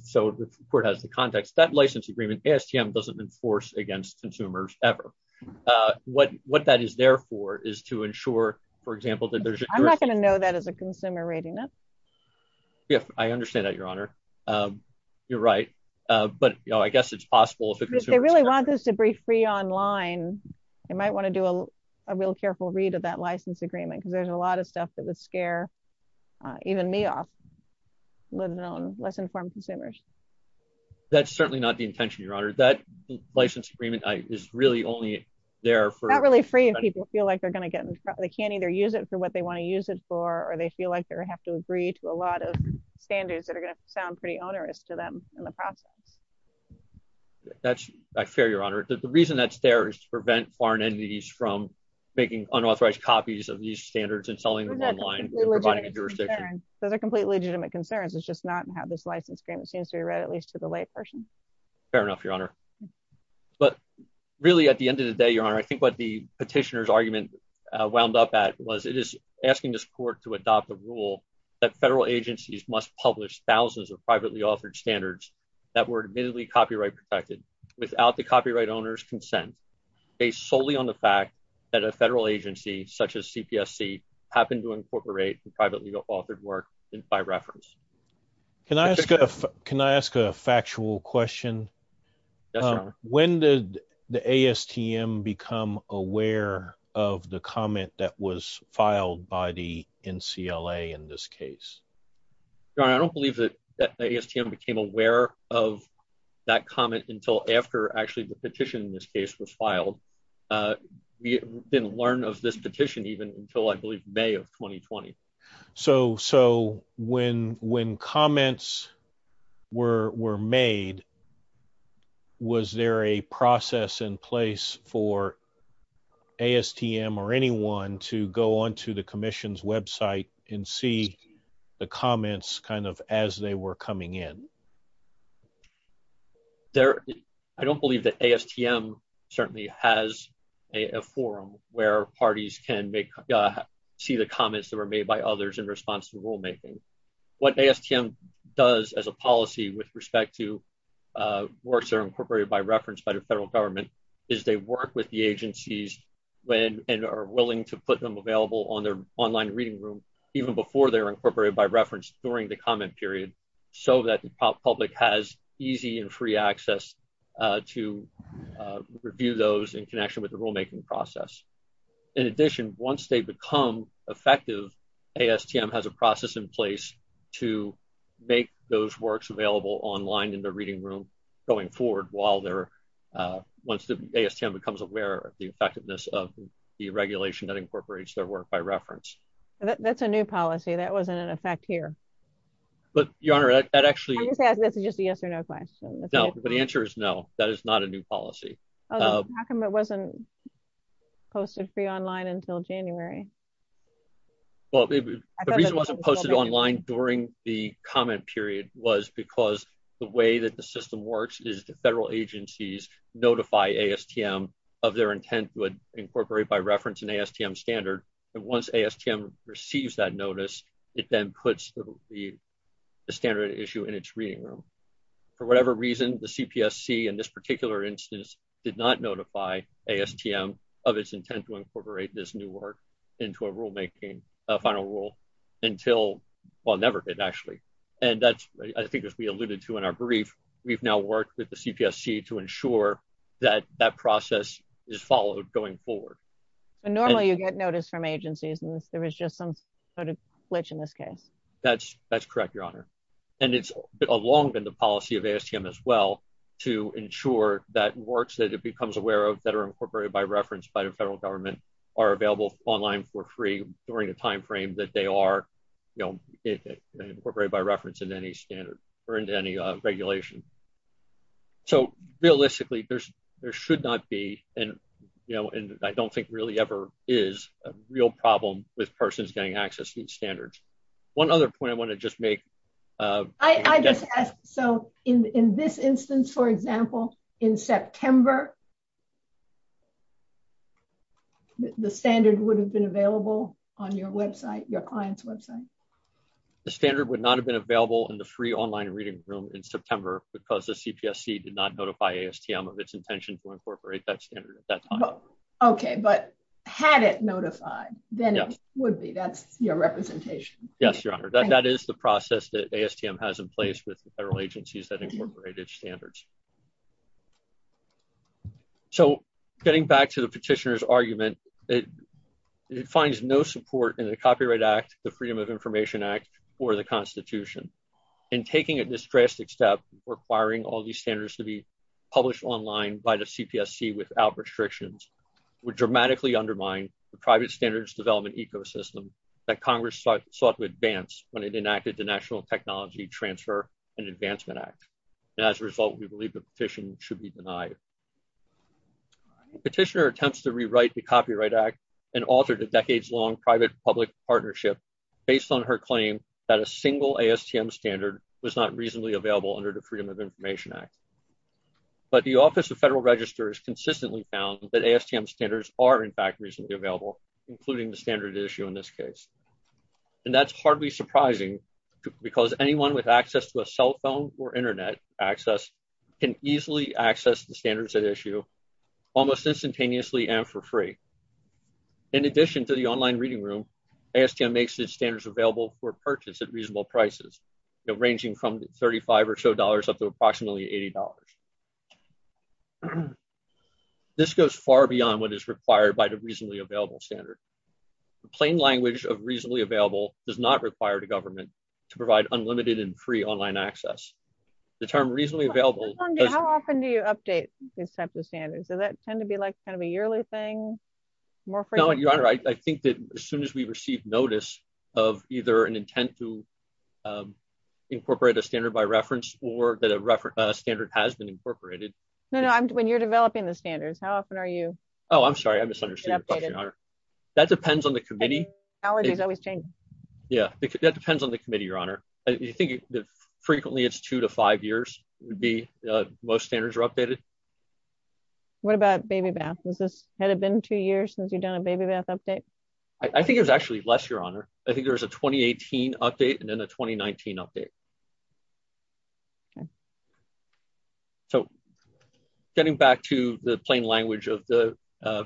so the court has the context that license agreement ASTM doesn't enforce against consumers ever. What that is, therefore, is to ensure, for example, that there's not going to know that as a consumer rating. If I understand that, your honor, you're right, but I guess it's possible. If they really want us to be free online, they might want to do a real careful read of that license agreement because there's a lot of stuff that would scare even me off. Let alone less informed consumers. That's certainly not the intention, your honor. That license agreement is really only there for. Not really free if people feel like they're going to get. They can't either use it for what they want to use it for, or they feel like they have to agree to a lot of standards that are going to sound pretty onerous to them in the process. That's fair, your honor. The reason that's there is to prevent foreign entities from making unauthorized copies of these standards and selling them online. So the complete legitimate concerns is just not have this license agreement seems to be right, at least for the white person. Fair enough, your honor. But really, at the end of the day, your honor, I think what the petitioner's argument wound up at was it is asking this court to adopt the rule that federal agencies must publish thousands of privately authored standards that were admittedly copyright protected without the copyright owner's consent. Based solely on the fact that a federal agency such as CPSC happened to incorporate the privately authored work in by reference. Can I ask a factual question? When did the ASTM become aware of the comment that was filed by the NCLA in this case? Your honor, I don't believe that the ASTM became aware of that comment until after actually the petition in this case was filed. We didn't learn of this petition even until I believe May of 2020. So when comments were made, was there a process in place for ASTM or anyone to go onto the commission's website and see the comments as they were coming in? I don't believe that ASTM certainly has a forum where parties can see the comments that were made by others in response to the rulemaking. What ASTM does as a policy with respect to works that are incorporated by reference by the federal government is they work with the agencies when and are willing to put them available on their online reading room even before they're incorporated by reference during the comment period so that the public has easy and free access to review those in connection with the rulemaking process. In addition, once they become effective, ASTM has a process in place to make those works available online in the reading room going forward while they're, once the ASTM becomes aware of the effectiveness of the regulation that incorporates their work by reference. That's a new policy. That wasn't in effect here. But Your Honor, that actually... I'm just asking this as a yes or no question. No, the answer is no. That is not a new policy. How come it wasn't posted free online until January? Well, the reason it wasn't posted online during the comment period was because the way that the system works is the federal agencies notify ASTM of their intent would incorporate by reference in ASTM standard. And once ASTM receives that notice, it then puts the standard issue in its reading room. For whatever reason, the CPSC in this particular instance did not notify ASTM of its intent to incorporate this new work into a rulemaking, a final rule until, well, never did actually. And that's, I think, as we alluded to in our brief, we've now worked with the CPSC to ensure that that process is followed going forward. Normally you get notice from agencies and there was just some sort of glitch in this case. That's correct, Your Honor. And it's a long in the policy of ASTM as well to ensure that works, that it becomes aware of, that are incorporated by reference by the federal government are available online for free during the timeframe that they are incorporated by reference in any standard or into any regulation. So realistically, there should not be, and I don't think really ever is, a real problem with persons getting access to these standards. One other point I want to just make. I just ask, so in this instance, for example, in September, the standard would have been available on your website, your client's website? The standard would not have been available in the free online reading room in September because the CPSC did not notify ASTM of its intention to incorporate that standard. Okay, but had it notified, then it would be. That's your representation. Yes, Your Honor. That is the process that ASTM has in place with the federal agencies that incorporated standards. So getting back to the petitioner's argument, it finds no support in the Copyright Act, the Freedom of Information Act, or the Constitution. And taking a distressed step requiring all these standards to be published online by the CPSC without restrictions would dramatically undermine the private standards development ecosystem that Congress sought to advance when it enacted the National Technology Transfer and Advancement Act. And as a result, we believe the petition should be denied. The petitioner attempts to rewrite the Copyright Act and alter the decades-long private-public partnership based on her claim that a single ASTM standard was not reasonably available under the Freedom of Information Act. But the Office of Federal Registers consistently found that ASTM standards are in fact reasonably available, including the standard issue in this case. And that's hardly surprising because anyone with access to a cell phone or internet access can easily access the standards at issue almost instantaneously and for free. In addition to the online reading room, ASTM makes its standards available for purchase at reasonable prices, ranging from 35 or so dollars up to approximately $80. This goes far beyond what is required by the reasonably available standard. The plain language of reasonably available does not require the government to provide unlimited and free online access. The term reasonably available... How often do you update these types of standards? Does that tend to be like kind of a yearly thing? No, Your Honor, I think that as soon as we receive notice of either an intent to incorporate a standard by reference or that a standard has been incorporated... No, no, when you're developing the standards, how often are you... Oh, I'm sorry, I misunderstood your question, Your Honor. That depends on the committee. Yeah, that depends on the committee, Your Honor. You think that frequently it's two to five years would be most standards are updated. What about baby baths? Was this... Had it been two years since you've done a baby bath update? I think it was actually less, Your Honor. I think there was a 2018 update and then a 2019 update. So getting back to the plain language of the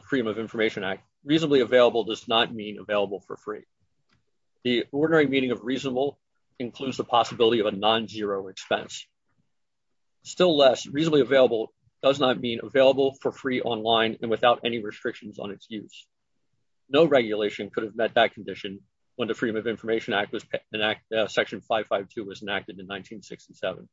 Freedom of Information Act, reasonably available does not mean available for free. The ordinary meaning of reasonable includes the possibility of a non-zero expense. Still less, reasonably available does not mean available for free online and without any restrictions on its use. No regulation could have met that condition when the Freedom of Information Act, Section 552 was enacted in 1967.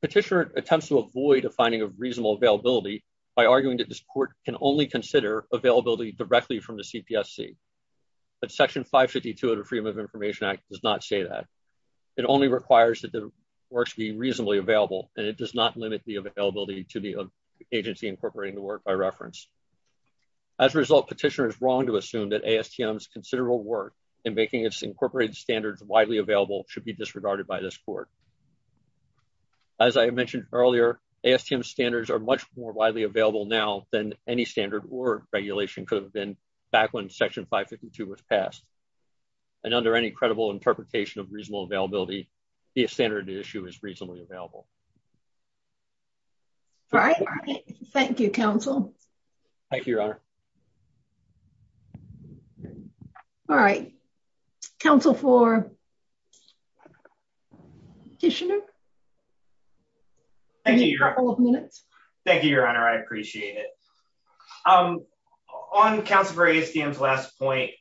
Petitioner attempts to avoid a finding of reasonable availability by arguing that this court can only consider availability directly from the CPSC. But Section 552 of the Freedom of Information Act does not say that. It only requires that the works be reasonably available and it does not limit the availability to the agency incorporating the work by reference. As a result, petitioner is wrong to assume that ASTM's considerable work in making its incorporated standards widely available should be disregarded by this court. As I mentioned earlier, ASTM standards are much more widely available now than any standard or regulation could have been back when Section 552 was passed. And under any credible interpretation of reasonable availability, a standard issue is reasonably available. All right. Thank you, Counsel. Thank you, Your Honor. All right. Counsel for Petitioner? Thank you, Your Honor. I appreciate it. Um, on Counsel for ASTM's last point,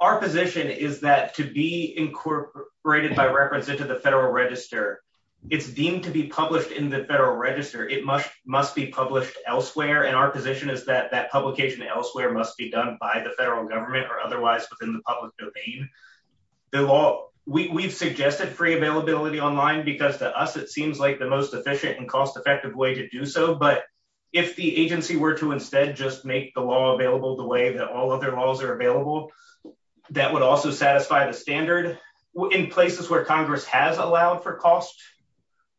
our position is that to be incorporated by reference into the Federal Register, it's deemed to be published in the Federal Register. It must be published elsewhere. And our position is that that publication elsewhere must be done by the federal government or otherwise within the public domain. The law, we've suggested free availability online because to us it seems like the most efficient and cost-effective way to do so. But if the agency were to instead just make the law available the way that all other laws are available, that would also satisfy the standard. In places where Congress has allowed for costs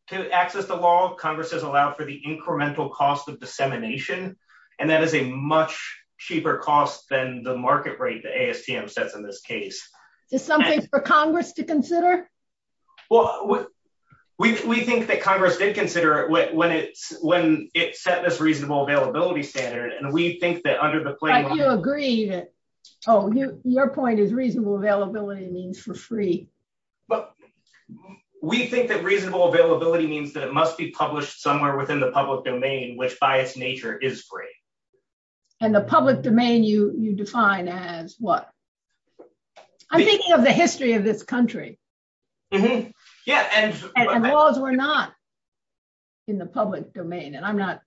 to access the law, Congress has allowed for the incremental cost of dissemination. And that is a much cheaper cost than the market rate that ASTM sets in this case. Is something for Congress to consider? Well, we think that Congress did consider when it set this reasonable availability standard. And we think that under the flag... I still agree that... Oh, your point is reasonable availability means for free. We think that reasonable availability means that it must be published somewhere within the public domain which by its nature is free. And the public domain you define as what? I'm thinking of the history of this country. Yeah. And laws were not. In the public domain. And I'm not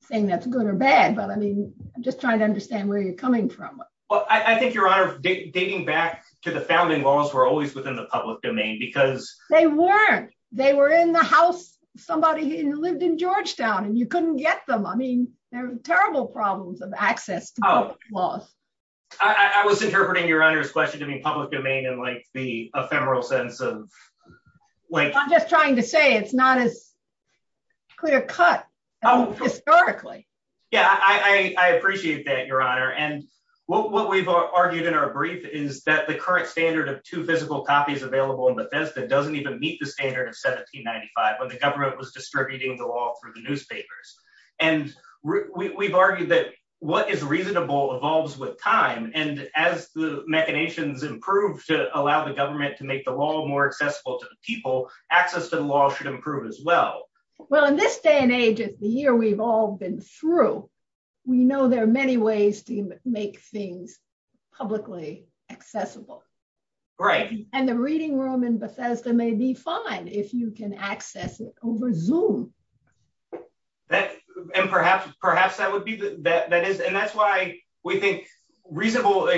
saying that's good or bad, but I mean, I'm just trying to understand where you're coming from. Well, I think Your Honor, dating back to the founding laws were always within the public domain because... They weren't. They were in the house of somebody who lived in Georgetown and you couldn't get them. I mean, there were terrible problems of access to those laws. I was interpreting Your Honor's question to be public domain and like the ephemeral sense of... I'm just trying to say it's not as... Could have cut historically. Yeah, I appreciate that Your Honor. And what we've argued in our brief is that the current standard of two physical copies available in Bethesda doesn't even meet the standard of 1795 when the government was distributing the law through the newspapers. And we've argued that what is reasonable evolves with time. And as the mechanisms improve to allow the government to make the law more accessible to the people, access to the law should improve as well. Well, in this day and age of the year we've all been through, we know there are many ways to make things publicly accessible. Right. And the reading room in Bethesda may be fine if you can access it over Zoom. And perhaps that would be... And that's why we think reasonable...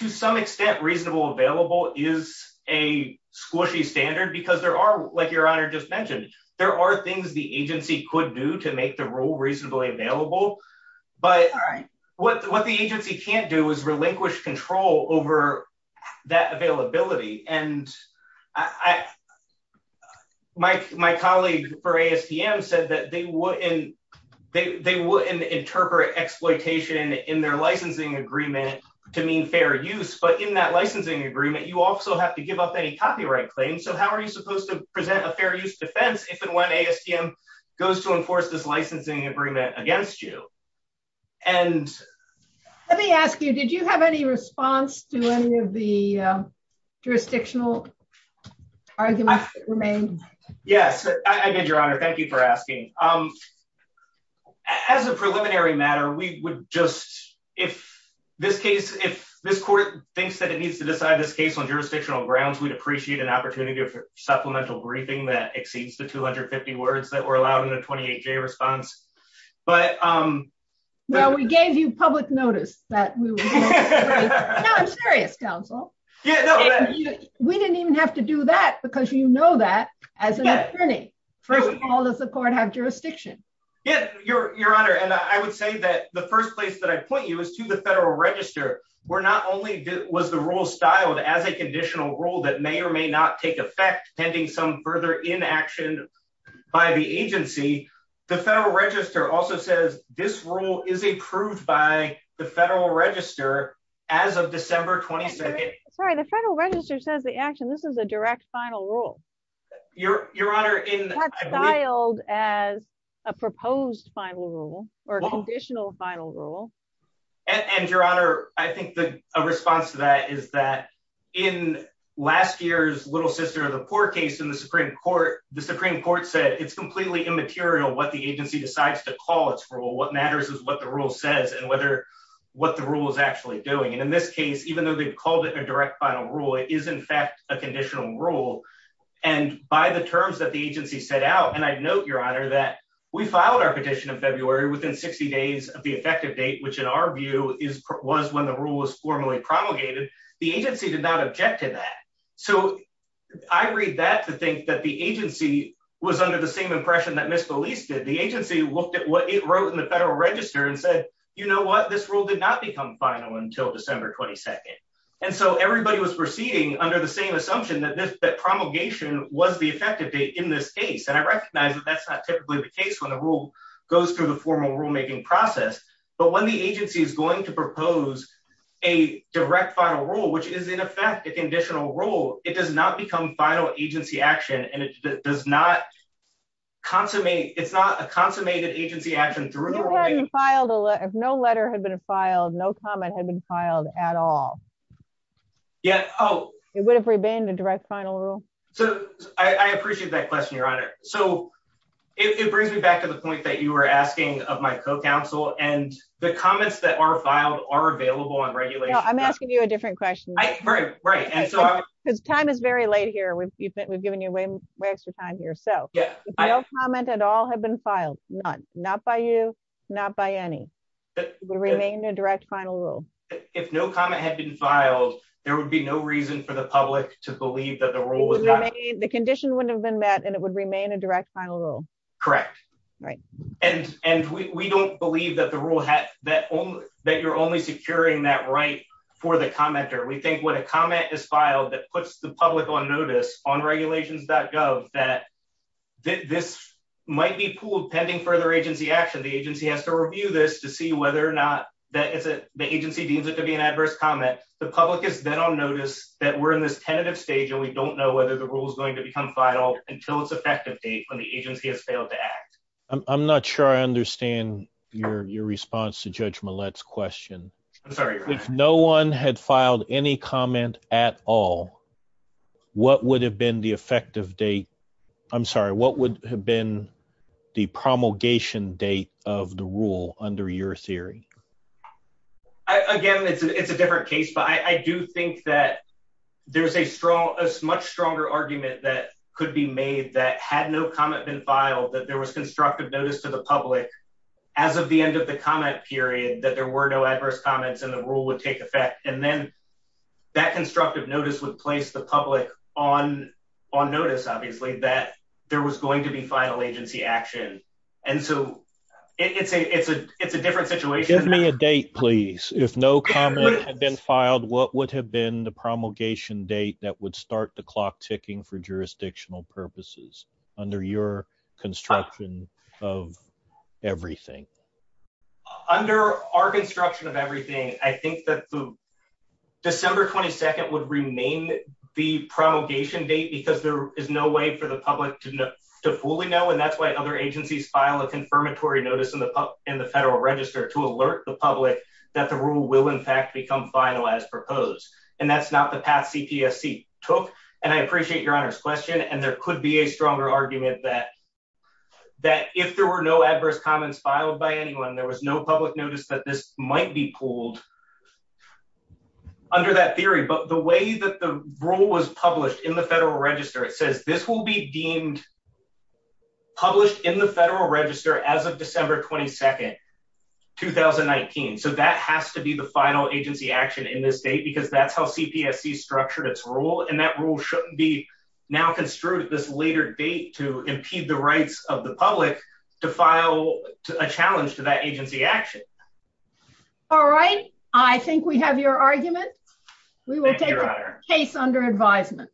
To some extent, reasonable available is a squishy standard because there are... Like Your Honor just mentioned, there are things the agency could do to make the rule reasonably available. But what the agency can't do is relinquish control over that availability. And my colleague for ASTM said that they wouldn't interpret exploitation in their licensing agreement to mean fair use. But in that licensing agreement, you also have to give up any copyright claims. So how are you supposed to present a fair use defense if and when ASTM goes to enforce this licensing agreement against you? And... Let me ask you, did you have any response to any of the jurisdictional arguments that remained? Yes, I did, Your Honor. Thank you for asking. As a preliminary matter, we would just... If this case... If this court thinks that it needs to decide this case on jurisdictional grounds, we'd appreciate an opportunity for supplemental briefing that exceeds the 250 words that were allowed in the 28-J response. But... No, we gave you public notice that we would... No, I'm serious, counsel. We didn't even have to do that because you know that as an attorney. First of all, does the court have jurisdiction? Yes, Your Honor. And I would say that the first place that I point you is to the federal register where not only was the rule styled as a conditional rule that may or may not take effect pending some further inaction by the agency, the federal register also says this rule is approved by the federal register as of December 22nd. Sorry, the federal register says the action. This is a direct final rule. Your Honor, in... It's not styled as a proposed final rule or conditional final rule. And Your Honor, I think a response to that is that in last year's Little Sister of the Poor case in the Supreme Court, the Supreme Court said it's completely immaterial what the agency decides to call its rule. What matters is what the rule says and whether what the rule is actually doing. And in this case, even though they've called it a direct final rule, it is in fact a conditional rule. And by the terms that the agency set out, and I note, Your Honor, that we filed our petition in February within 60 days of the effective date, which in our view was when the rule was formally promulgated, the agency did not object to that. So I read that to think that the agency was under the same impression that Ms. Solis did. The agency looked at what it wrote in the federal register and said, you know what? This rule did not become final until December 22nd. And so everybody was proceeding under the same assumption that promulgation was the effective date in this case. And I recognize that that's not typically the case when a rule goes through the formal rulemaking process. But when the agency is going to propose a direct final rule, which is in effect a conditional rule, it does not become final agency action. And it does not consummate. It's not a consummated agency action. If no letter had been filed, no comment had been filed at all. Yes. Oh. It would have remained a direct final rule. So I appreciate that question, Your Honor. So it brings me back to the point that you were asking of my co-counsel. And the comments that are filed are available on regulations. I'm asking you a different question. Right, right. Because time is very late here. We've given you way too much time here. So if no comment at all had been filed, none, not by you, not by any, it would remain a direct final rule. If no comment had been filed, there would be no reason for the public to believe that the rule was valid. The condition wouldn't have been met and it would remain a direct final rule. Correct. Right. And we don't believe that the rule, that you're only securing that right for the commenter. We think when a comment is filed that puts the public on notice on regulations.gov, that this might be pooled pending further agency action. The agency has to review this to see whether or not that the agency deems it to be an adverse comment. The public has been on notice that we're in this tentative stage and we don't know whether the rule is going to become final until it's effective date when the agency has failed to act. I'm not sure I understand your response to Judge Millett's question. I'm sorry. If no one had filed any comment at all, what would have been the effective date? I'm sorry. What would have been the promulgation date of the rule under your theory? Again, it's a different case, but I do think that there's a much stronger argument that could be made that had no comment been filed, that there was constructive notice to the public as of the end of the comment period that there were no adverse comments and the rule would take effect. And then that constructive notice would place the public on notice, obviously, that there was going to be final agency action. And so it's a different situation. Give me a date, please. If no comment had been filed, what would have been the promulgation date that would start the clock ticking for jurisdictional purposes under your construction of everything? Under our construction of everything, I think that December 22nd would remain the promulgation date because there is no way for the public to fully know. And that's why other agencies file a confirmatory notice in the federal register to alert the public that the rule will, in fact, become final as proposed. And that's not the path CPSC took. And I appreciate Your Honor's question. And there could be a stronger argument that if there were no adverse comments filed by anyone, there was no public notice that this might be pulled under that theory. But the way that the rule was published in the federal register, it says this will be deemed published in the federal register as of December 22nd, 2019. So that has to be the final agency action in this state because that's how CPSC structured its rule. And that rule shouldn't be now construed at this later date to impede the rights of the public to file a challenge to that agency action. All right. I think we have your argument. We will take a case under advisement.